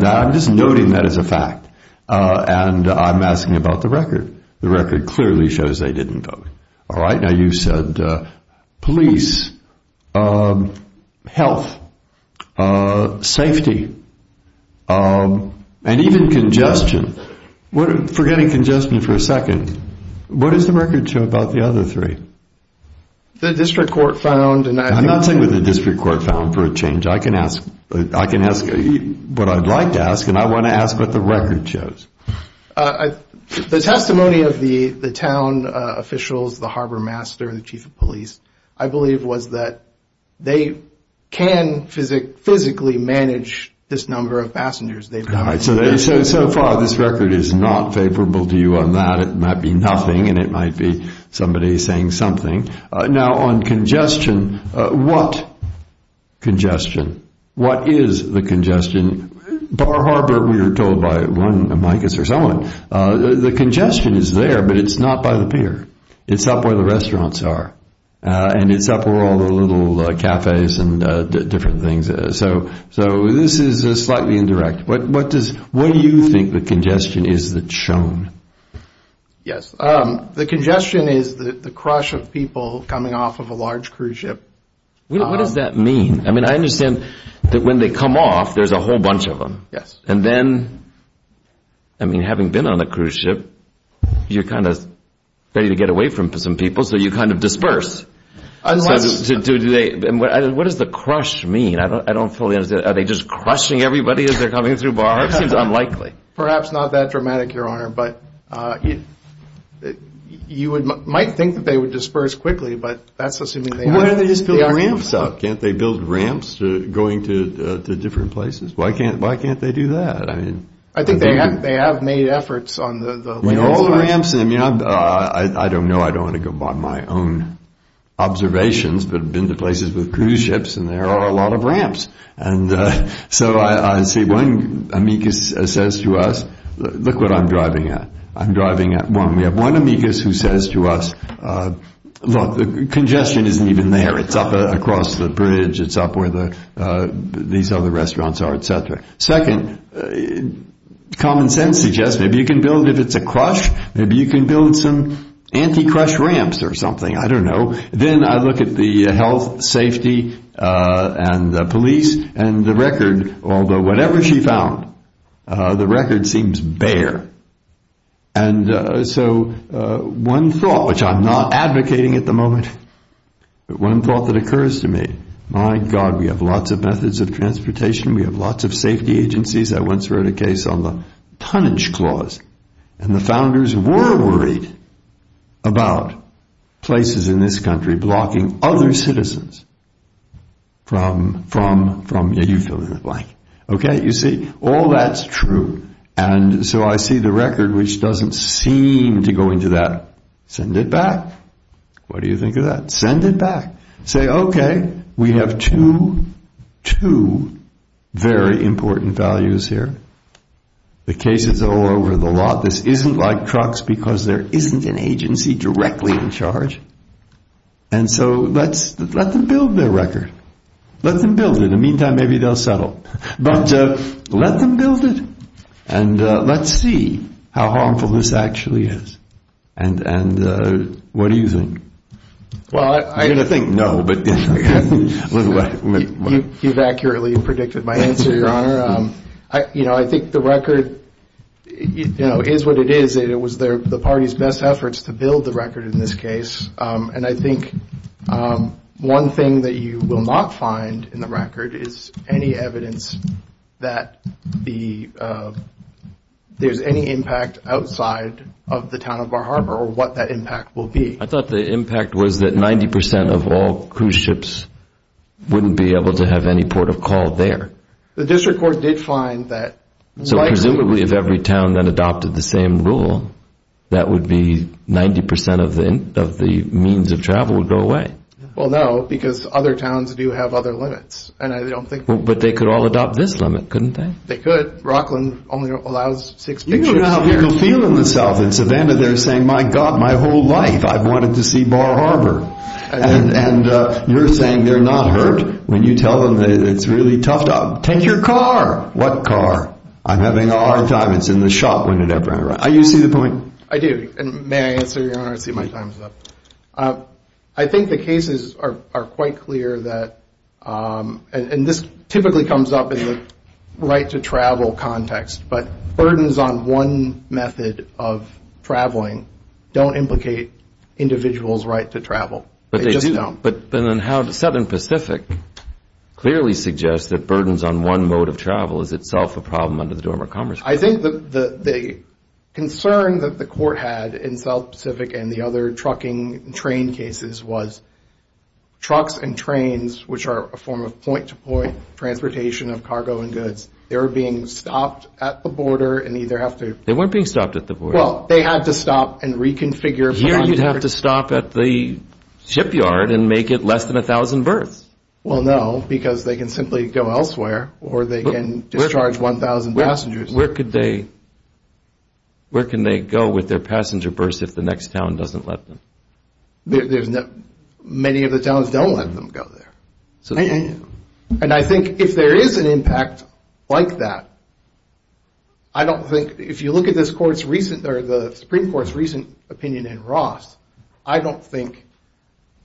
I'm just noting that as a fact. And I'm asking about the record. The record clearly shows they didn't vote. All right, now you said police, health, safety, and even congestion. Forgetting congestion for a second, what does the record show about the other three? The district court found. I'm not saying that the district court found for a change. I can ask what I'd like to ask, and I want to ask what the record shows. The testimony of the town officials, the harbor master, and the chief of police, I believe was that they can physically manage this number of passengers they've got. All right, so they say so far this record is not favorable to you on that. It might be nothing, and it might be somebody saying something. Now, on congestion, what congestion? What is the congestion? Our harbor, we were told by one, I guess, or someone, the congestion is there, but it's not by the pier. It's up where the restaurants are, and it's up where all the little cafes and different things are. So this is slightly indirect. What do you think the congestion is that's shown? Yes, the congestion is the crush of people coming off of a large cruise ship. What does that mean? I mean, I understand that when they come off, there's a whole bunch of them. And then, I mean, having been on the cruise ship, you're kind of ready to get away from some people, so you kind of disperse. What does the crush mean? I don't fully understand. Are they just crushing everybody as they're coming through bars? That seems unlikely. Perhaps not that dramatic, Your Honor. But you might think that they would disperse quickly, but that's assuming they aren't. Why can't they just build ramps up? Can't they build ramps going to different places? Why can't they do that? I think they have made efforts on the land. All the ramps, I mean, I don't know. I don't want to go on my own observations, but I've been to places with cruise ships, and there are a lot of ramps. And so I see one amicus says to us, look what I'm driving at. I'm driving at one. We have one amicus who says to us, look, congestion isn't even there. It's up across the bridge. It's up where these other restaurants are, et cetera. Second, common sense suggests maybe you can build, if it's a crush, maybe you can build some anti-crush ramps or something. I don't know. Then I look at the health, safety, and police, and the record, although whatever she found, the record seems bare. And so one thought, which I'm not advocating at the moment, but one thought that occurs to me, my God, we have lots of methods of transportation. We have lots of safety agencies. I once read a case on the tonnage clause, and the founders were worried about places in this country blocking other citizens from the utility line. Okay, you see, all that's true. And so I see the record, which doesn't seem to go into that. Send it back. What do you think of that? Send it back. Say, okay, we have two very important values here. The case is all over the lot. This isn't like trucks because there isn't an agency directly in charge. And so let them build their record. Let them build it. In the meantime, maybe they'll settle. But let them build it, and let's see how harmful this actually is. And what do you think? Well, I'm going to think no. You've accurately predicted my answer, Your Honor. You know, I think the record is what it is, and it was the party's best efforts to build the record in this case. And I think one thing that you will not find in the record is any evidence that there's any impact outside of the town of Bar Harbor or what that impact will be. I thought the impact was that 90% of all cruise ships wouldn't be able to have any port of call there. The district court did find that. So presumably if every town then adopted the same rule, that would be 90% of the means of travel would go away. Well, no, because other towns do have other limits. But they could all adopt this limit, couldn't they? They could. Rockland only allows six people. You don't know how people feel in the South. In Savannah they're saying, my God, my whole life I've wanted to see Bar Harbor. And you're saying you're not hurt when you tell them that it's a really tough job. Take your car. What car? I'm having a hard time. It's in the shop. I do see the point. I do. And may I answer your question? I think the cases are quite clear that, and this typically comes up in the right-to-travel context, but burdens on one method of traveling don't implicate individuals' right to travel. They just don't. But Southern Pacific clearly suggests that burdens on one mode of travel is itself a problem under the Dormant Commerce Act. I think the concern that the court had in South Pacific and the other trucking and train cases was trucks and trains, which are a form of point-to-point transportation of cargo and goods, they were being stopped at the border and either have to – They weren't being stopped at the border. Well, they had to stop and reconfigure – You didn't have to stop at the shipyard and make it less than 1,000 birds. Well, no, because they can simply go elsewhere or they can discharge 1,000 passengers. Where can they go with their passenger berths if the next town doesn't let them? Many of the towns don't let them go there. And I think if there is an impact like that, I don't think – if you look at the Supreme Court's recent opinion in Ross, I don't think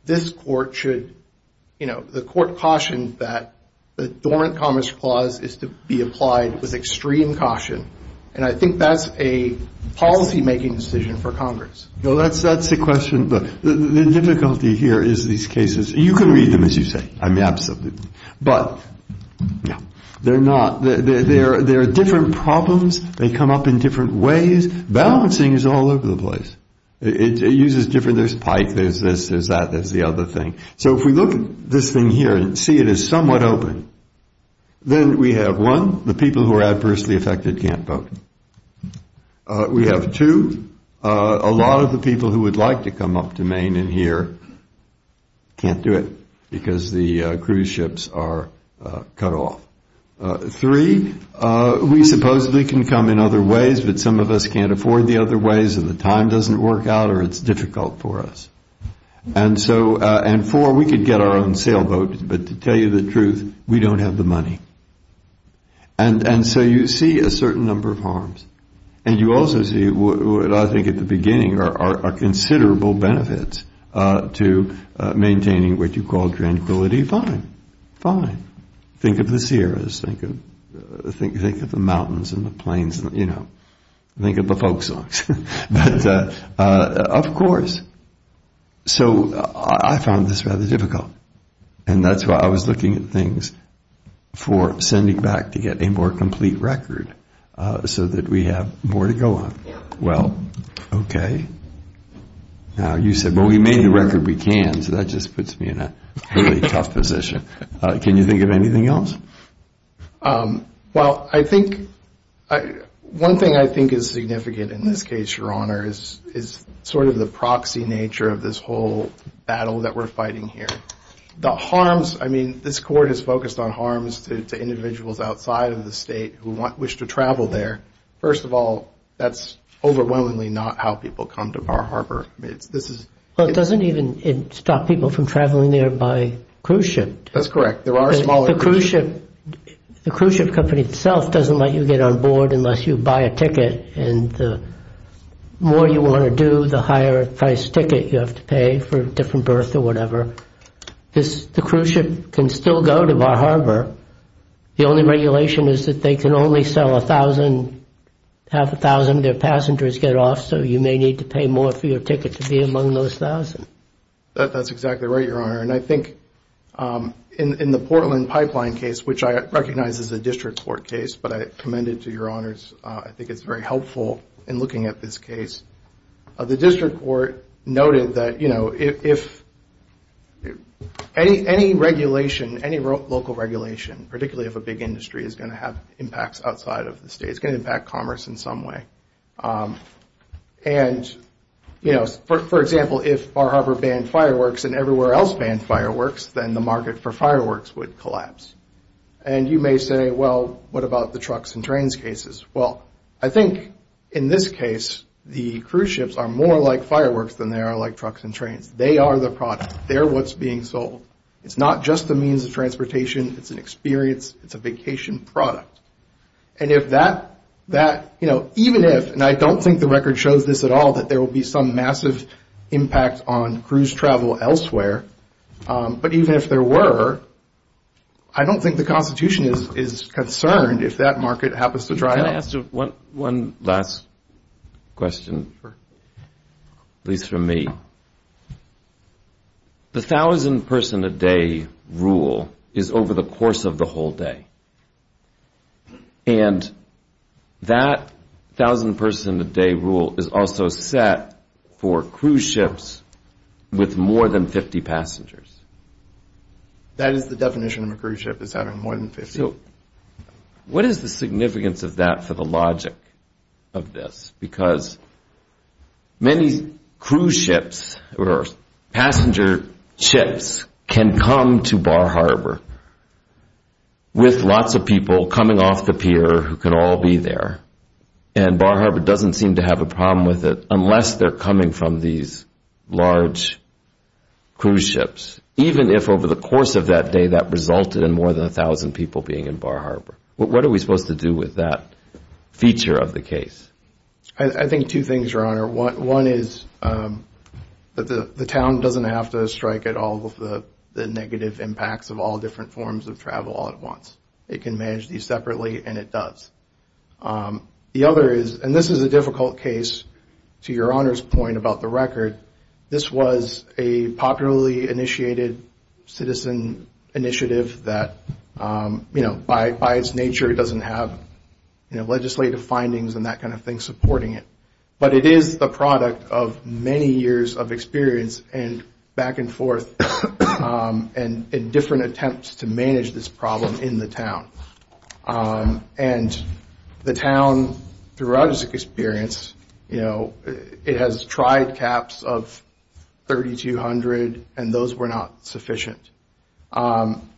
this court should – The court cautioned that the Dormant Commerce Clause is to be applied with extreme caution, and I think that's a policy-making decision for Congress. That's the question. The difficulty here is these cases – You can read them, as you say. I mean, absolutely. But they're not – There are different problems. They come up in different ways. Balancing is all over the place. It uses different – There's pike, there's this, there's that, there's the other thing. So if we look at this thing here and see it is somewhat open, then we have, one, the people who are adversely affected can't boat. We have, two, a lot of the people who would like to come up to Maine and here can't do it because the cruise ships are cut off. Three, we supposedly can come in other ways, but some of us can't afford the other ways or the time doesn't work out or it's difficult for us. And four, we could get our own sailboats, but to tell you the truth, we don't have the money. And so you see a certain number of harms. And you also see, I think at the beginning, are considerable benefits to maintaining what you call tranquility. Fine. Fine. Think of the Sierras. Think of the mountains and the plains, you know. Think of the folks. Of course. So I found this rather difficult, and that's why I was looking at things for sending back to get a more complete record so that we have more to go on. Well, okay. You said, well, we made the record we can, so that just puts me in a really tough position. Can you think of anything else? Well, I think one thing I think is significant in this case, Your Honor, is sort of the proxy nature of this whole battle that we're fighting here. The harms, I mean, this court has focused on harms to individuals outside of the state who wish to travel there. First of all, that's overwhelmingly not how people come to Bar Harbor. It doesn't even stop people from traveling there by cruise ship. That's correct. The cruise ship company itself doesn't let you get on board unless you buy a ticket, and the more you want to do, the higher-priced ticket you have to pay for a different berth or whatever. The cruise ship can still go to Bar Harbor. The only regulation is that they can only sell a thousand, half a thousand their passengers get off, so you may need to pay more for your ticket to be among those thousands. That's exactly right, Your Honor. I think in the Portland Pipeline case, which I recognize is a district court case, but I commend it to Your Honors. I think it's very helpful in looking at this case. The district court noted that if any regulation, any local regulation, particularly if a big industry is going to have impacts outside of the state, it's going to impact commerce in some way. And, you know, for example, if Bar Harbor banned fireworks and everywhere else banned fireworks, then the market for fireworks would collapse. And you may say, well, what about the trucks and trains cases? Well, I think in this case the cruise ships are more like fireworks than they are like trucks and trains. They are the product. They're what's being sold. It's not just the means of transportation. It's an experience. It's a vacation product. And if that, you know, even if, and I don't think the record shows this at all, that there will be some massive impact on cruise travel elsewhere, but even if there were, I don't think the Constitution is concerned if that market happens to dry up. Can I ask one last question, at least from me? The 1,000-person-a-day rule is over the course of the whole day. And that 1,000-person-a-day rule is also set for cruise ships with more than 50 passengers. That is the definition of a cruise ship. It's out of more than 50. So what is the significance of that for the logic of this? Because many cruise ships or passenger ships can come to Bar Harbor with lots of people coming off the pier who can all be there. And Bar Harbor doesn't seem to have a problem with it unless they're coming from these large cruise ships, even if over the course of that day that resulted in more than 1,000 people being in Bar Harbor. What are we supposed to do with that feature of the case? I think two things, Your Honor. One is that the town doesn't have to strike at all with the negative impacts of all different forms of travel all at once. It can manage these separately, and it does. The other is, and this is a difficult case to Your Honor's point about the record, this was a popularly initiated citizen initiative that, you know, by its nature, it doesn't have legislative findings and that kind of thing supporting it. But it is the product of many years of experience and back and forth and different attempts to manage this problem in the town. And the town, throughout its experience, you know, it has tried caps of 3,200, and those were not sufficient.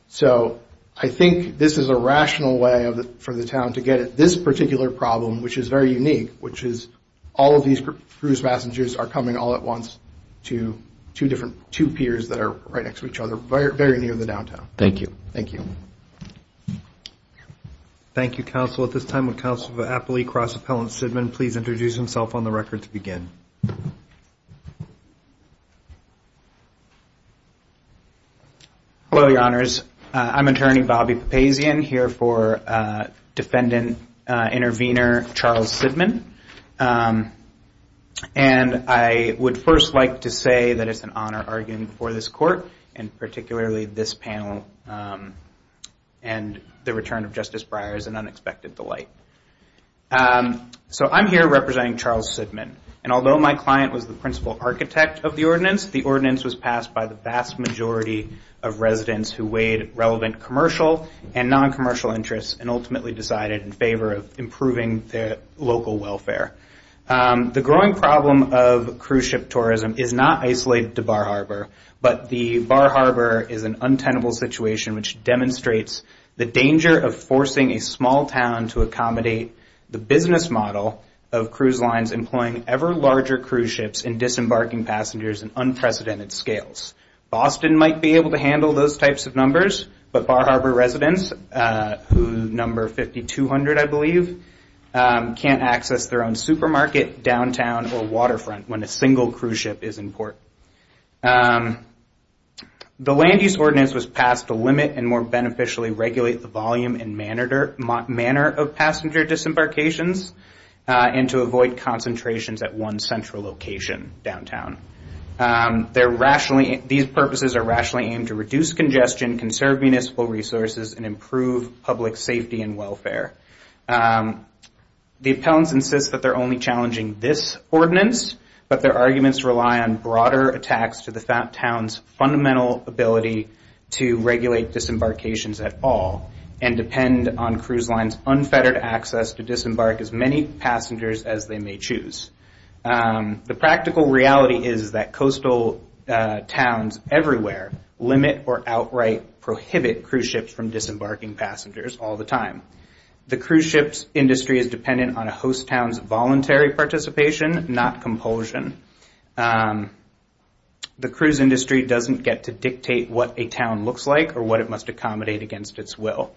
So I think this is a rational way for the town to get at this particular problem, which is very unique, which is all of these cruise passengers are coming all at once to two different, two piers that are right next to each other, very near the downtown. Thank you. Thank you. Thank you, Counsel. At this time, will Counsel for Appalachia Cross Appellant Shidman please introduce himself on the record to begin. Hello, Your Honors. I'm Attorney Bobby Papazian, here for Defendant Intervenor Charles Shidman. And I would first like to say that it's an honor arguing for this Court and particularly this panel and the return of Justice Breyer as an unexpected delight. So I'm here representing Charles Shidman. And although my client was the principal architect of the ordinance, the ordinance was passed by the vast majority of residents who weighed relevant commercial and non-commercial interests and ultimately decided in favor of improving their local welfare. The growing problem of cruise ship tourism is not isolated to Bar Harbor, but the Bar Harbor is an untenable situation, which demonstrates the danger of forcing a small town to accommodate the business model of cruise lines employing ever larger cruise ships and disembarking passengers in unprecedented scales. Boston might be able to handle those types of numbers, but Bar Harbor residents, who number 5,200, I believe, can't access their own supermarket, downtown, or waterfront when a single cruise ship is in port. The land use ordinance was passed to limit and more beneficially regulate the volume and manner of passenger disembarkations and to avoid concentrations at one central location, downtown. These purposes are rationally aimed to reduce congestion, conserve municipal resources, and improve public safety and welfare. The appellants insist that they're only challenging this ordinance, but their arguments rely on broader attacks to the town's fundamental ability to regulate disembarkations at all and depend on cruise lines' unfettered access to disembark as many passengers as they may choose. The practical reality is that coastal towns everywhere limit or outright prohibit cruise ships from disembarking passengers all the time. The cruise ships industry is dependent on a host town's voluntary participation, not compulsion. The cruise industry doesn't get to dictate what a town looks like or what it must accommodate against its will.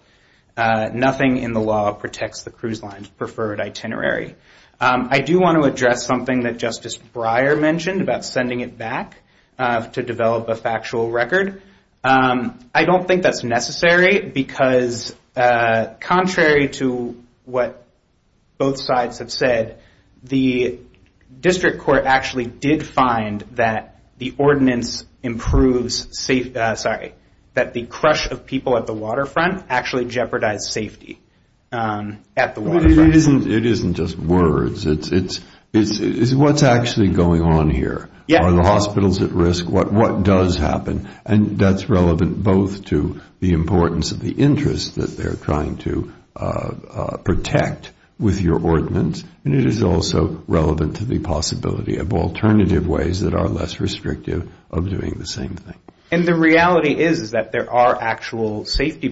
Nothing in the law protects the cruise line's preferred itinerary. I do want to address something that Justice Breyer mentioned about sending it back to develop a factual record. I don't think that's necessary because contrary to what both sides have said, the district court actually did find that the crush of people at the waterfront actually jeopardized safety at the waterfront. It isn't just words. It's what's actually going on here. Are the hospitals at risk? What does happen? That's relevant both to the importance of the interest that they're trying to protect with your ordinance and it is also relevant to the possibility of alternative ways that are less restrictive of doing the same thing. The reality is that there are actual safety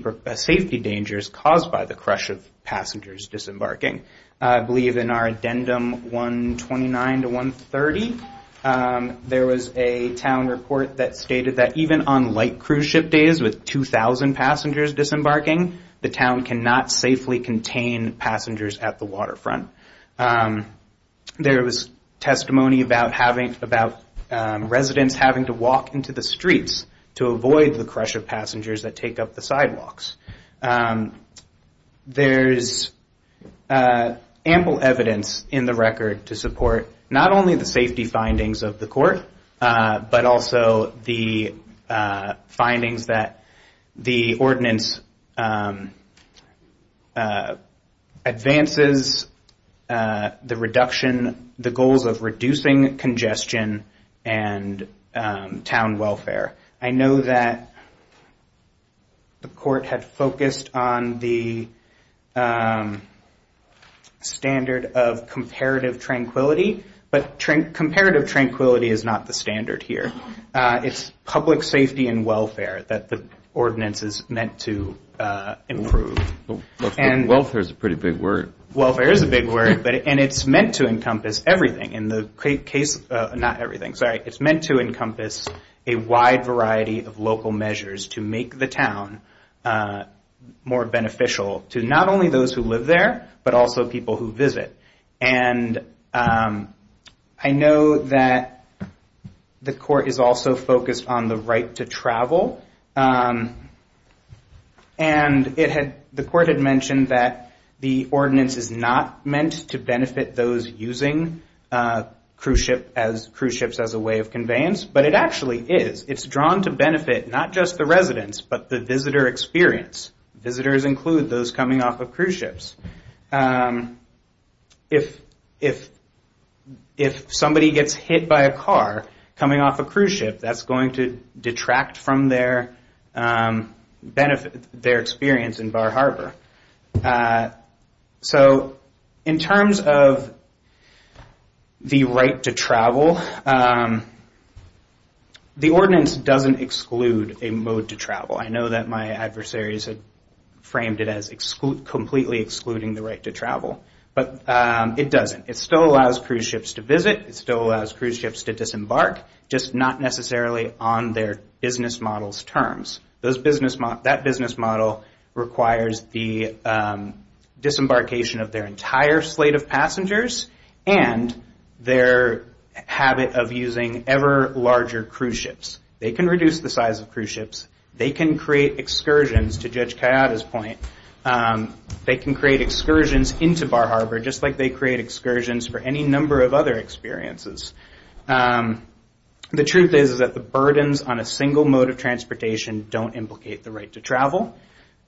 dangers caused by the crush of passengers disembarking. I believe in our addendum 129 to 130, there was a town report that stated that even on light cruise ship days with 2,000 passengers disembarking, the town cannot safely contain passengers at the waterfront. There was testimony about residents having to walk into the streets to avoid the crush of passengers that take up the sidewalks. There's ample evidence in the record to support not only the safety findings of the court but also the findings that the ordinance advances the reduction, the goals of reducing congestion and town welfare. I know that the court had focused on the standard of comparative tranquility but comparative tranquility is not the standard here. It's public safety and welfare that the ordinance is meant to improve. Welfare is a pretty big word. Welfare is a big word and it's meant to encompass everything. Not everything, sorry. It's meant to encompass a wide variety of local measures to make the town more beneficial to not only those who live there but also people who visit. I know that the court is also focused on the right to travel and the court had mentioned that the ordinance is not meant to benefit those using cruise ships as a way of conveyance but it actually is. It's drawn to benefit not just the residents but the visitor experience. Visitors include those coming off of cruise ships. If somebody gets hit by a car coming off a cruise ship, that's going to detract from their experience in Bar Harbor. So in terms of the right to travel, the ordinance doesn't exclude a mode to travel. I know that my adversaries have framed it as completely excluding the right to travel but it doesn't. It still allows cruise ships to visit. It still allows cruise ships to disembark, just not necessarily on their business model's terms. That business model requires the disembarkation of their entire slate of passengers and their habit of using ever-larger cruise ships. They can reduce the size of cruise ships. They can create excursions to Judge Kayada's point. They can create excursions into Bar Harbor just like they create excursions for any number of other experiences. The truth is that the burdens on a single mode of transportation don't implicate the right to travel.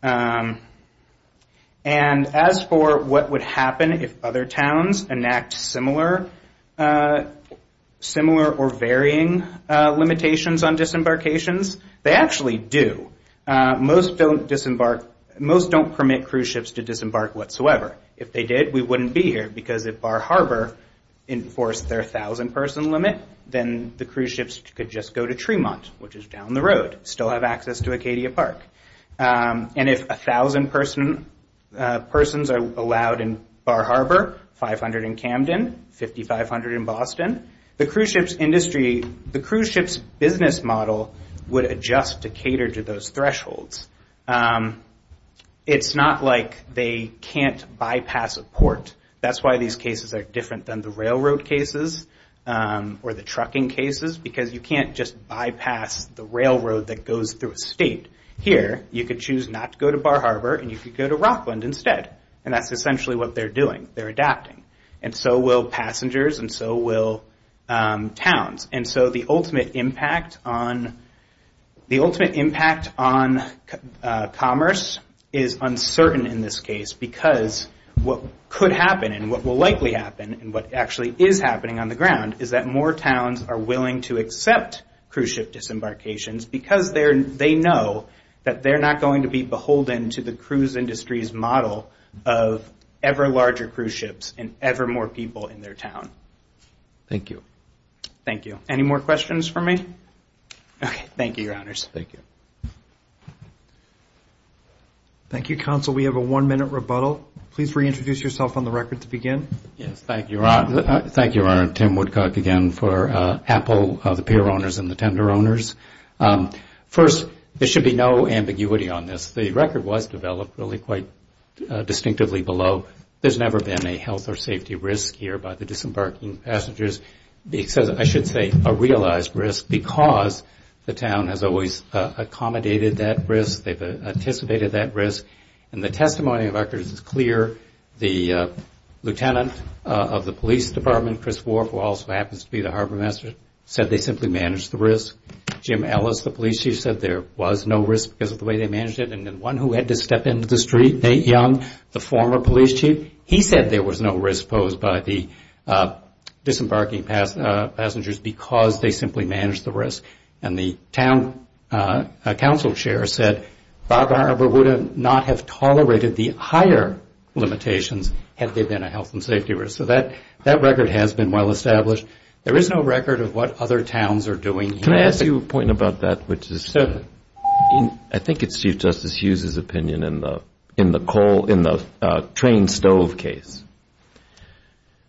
And as for what would happen if other towns enact similar or varying limitations on disembarkations, they actually do. Most don't permit cruise ships to disembark whatsoever. If they did, we wouldn't be here because if Bar Harbor enforced their 1,000-person limit, then the cruise ships could just go to Tremont, which is down the road, still have access to Acadia Park. And if 1,000 persons are allowed in Bar Harbor, 500 in Camden, 5,500 in Boston, the cruise ship's business model would adjust to cater to those thresholds. It's not like they can't bypass a port. That's why these cases are different than the railroad cases or the trucking cases because you can't just bypass the railroad that goes through a state. Here, you could choose not to go to Bar Harbor and you could go to Rockland instead. And that's essentially what they're doing. They're adapting. And so will passengers and so will towns. And so the ultimate impact on commerce is uncertain in this case because what could happen and what will likely happen and what actually is happening on the ground is that more towns are willing to accept cruise ship disembarkations because they know that they're not going to be beholden to the cruise industry's model of ever larger cruise ships and ever more people in their town. Thank you. Thank you. Any more questions for me? Thank you, Your Honors. Thank you. Thank you, Counsel. We have a one-minute rebuttal. Please reintroduce yourself on the record to begin. Thank you, Your Honor. Thank you, Your Honor. Tim Woodcock again for Apple, the peer owners, and the tender owners. First, there should be no ambiguity on this. The record was developed really quite distinctively below. There's never been a health or safety risk here by the disembarking passengers. I should say a realized risk because the town has always accommodated that risk. They've anticipated that risk. The testimony of our cruise is clear. The lieutenant of the police department, Chris Warfel, who also happens to be the harbor master, said they simply managed the risk. Jim Ellis, the police chief, said there was no risk because of the way they managed it. Then one who had to step into the street, Nate Young, the former police chief, he said there was no risk posed by the disembarking passengers because they simply managed the risk. The town council chair said Bob Harbor would not have tolerated the higher limitations had there been a health and safety risk. That record has been well established. There is no record of what other towns are doing. Can I ask you a point about that? I think it's Chief Justice Hughes' opinion in the coal, in the train stove case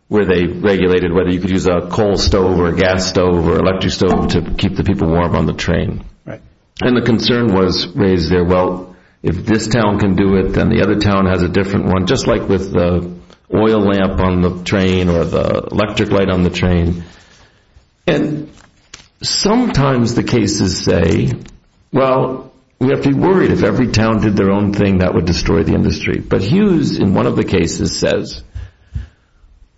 where they regulated whether you could use a coal stove or a gas stove or an electric stove to keep the people warm on the train. And the concern was raised there, well, if this town can do it, then the other town has a different one, just like with the oil lamp on the train or the electric light on the train. And sometimes the cases say, well, we have to be worried. If every town did their own thing, that would destroy the industry. But Hughes, in one of the cases, says,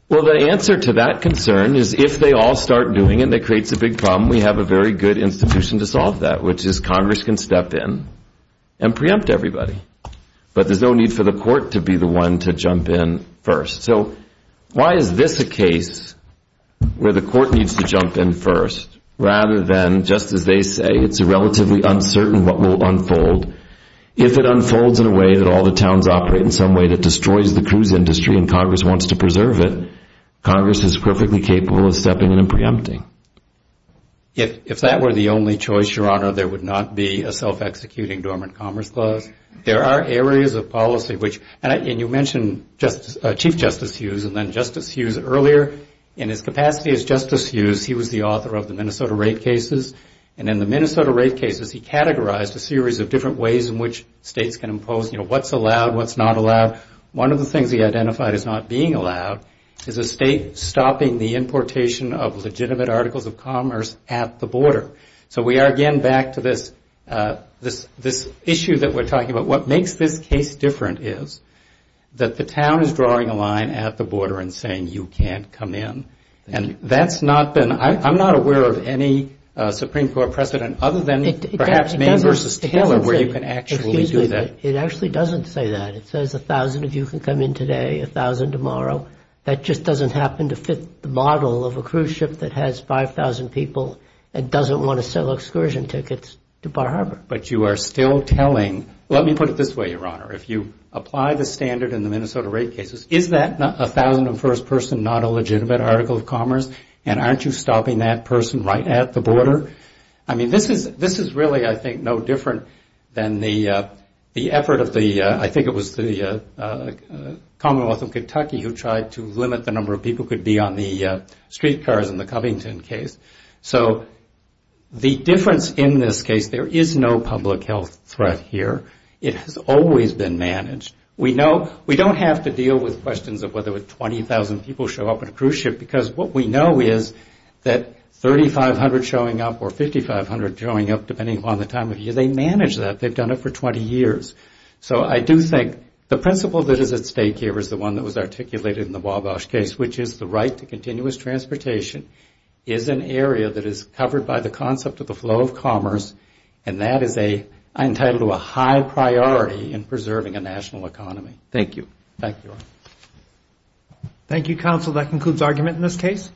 well, the answer to that concern is if they all start doing it and it creates a big problem, we have a very good institution to solve that, which is Congress can step in and preempt everybody. But there's no need for the court to be the one to jump in first. So why is this a case where the court needs to jump in first rather than, just as they say, it's relatively uncertain what will unfold. If it unfolds in a way that all the towns operate in some way that destroys the cruise industry and Congress wants to preserve it, Congress is perfectly capable of stepping in and preempting. If that were the only choice, Your Honor, there would not be a self-executing Dormant Commerce Clause. There are areas of policy, and you mentioned Chief Justice Hughes and then Justice Hughes earlier. In his capacity as Justice Hughes, he was the author of the Minnesota Rape Cases. And in the Minnesota Rape Cases, he categorized a series of different ways in which states can impose what's allowed, what's not allowed. One of the things he identified as not being allowed is a state stopping the importation of legitimate articles of commerce at the border. So we are again back to this issue that we're talking about. What makes this case different is that the town is drawing a line at the border and saying you can't come in. And that's not been – I'm not aware of any Supreme Court precedent other than perhaps Maine v. Taylor where you can actually do that. It actually doesn't say that. It says 1,000 of you can come in today, 1,000 tomorrow. That just doesn't happen to fit the model of a cruise ship that has 5,000 people and doesn't want to sell excursion tickets to Bar Harbor. But you are still telling – let me put it this way, Your Honor. If you apply the standard in the Minnesota Rape Cases, is that 1,001st person not a legitimate article of commerce? And aren't you stopping that person right at the border? I mean, this is really, I think, no different than the effort of the – I think it was the Commonwealth of Kentucky who tried to limit the number of people who could be on the streetcars in the Covington case. So the difference in this case, there is no public health threat here. It has always been managed. We don't have to deal with questions of whether 20,000 people show up in a cruise ship because what we know is that 3,500 showing up or 5,500 showing up, depending upon the time of year, they manage that. They've done it for 20 years. So I do think the principle that is at stake here is the one that was articulated in the Wabash case, which is the right to continuous transportation is an area that is covered by the concept of the flow of commerce, and that is entitled to a high priority in preserving a national economy. Thank you. Thank you. Thank you, counsel. That concludes argument in this case.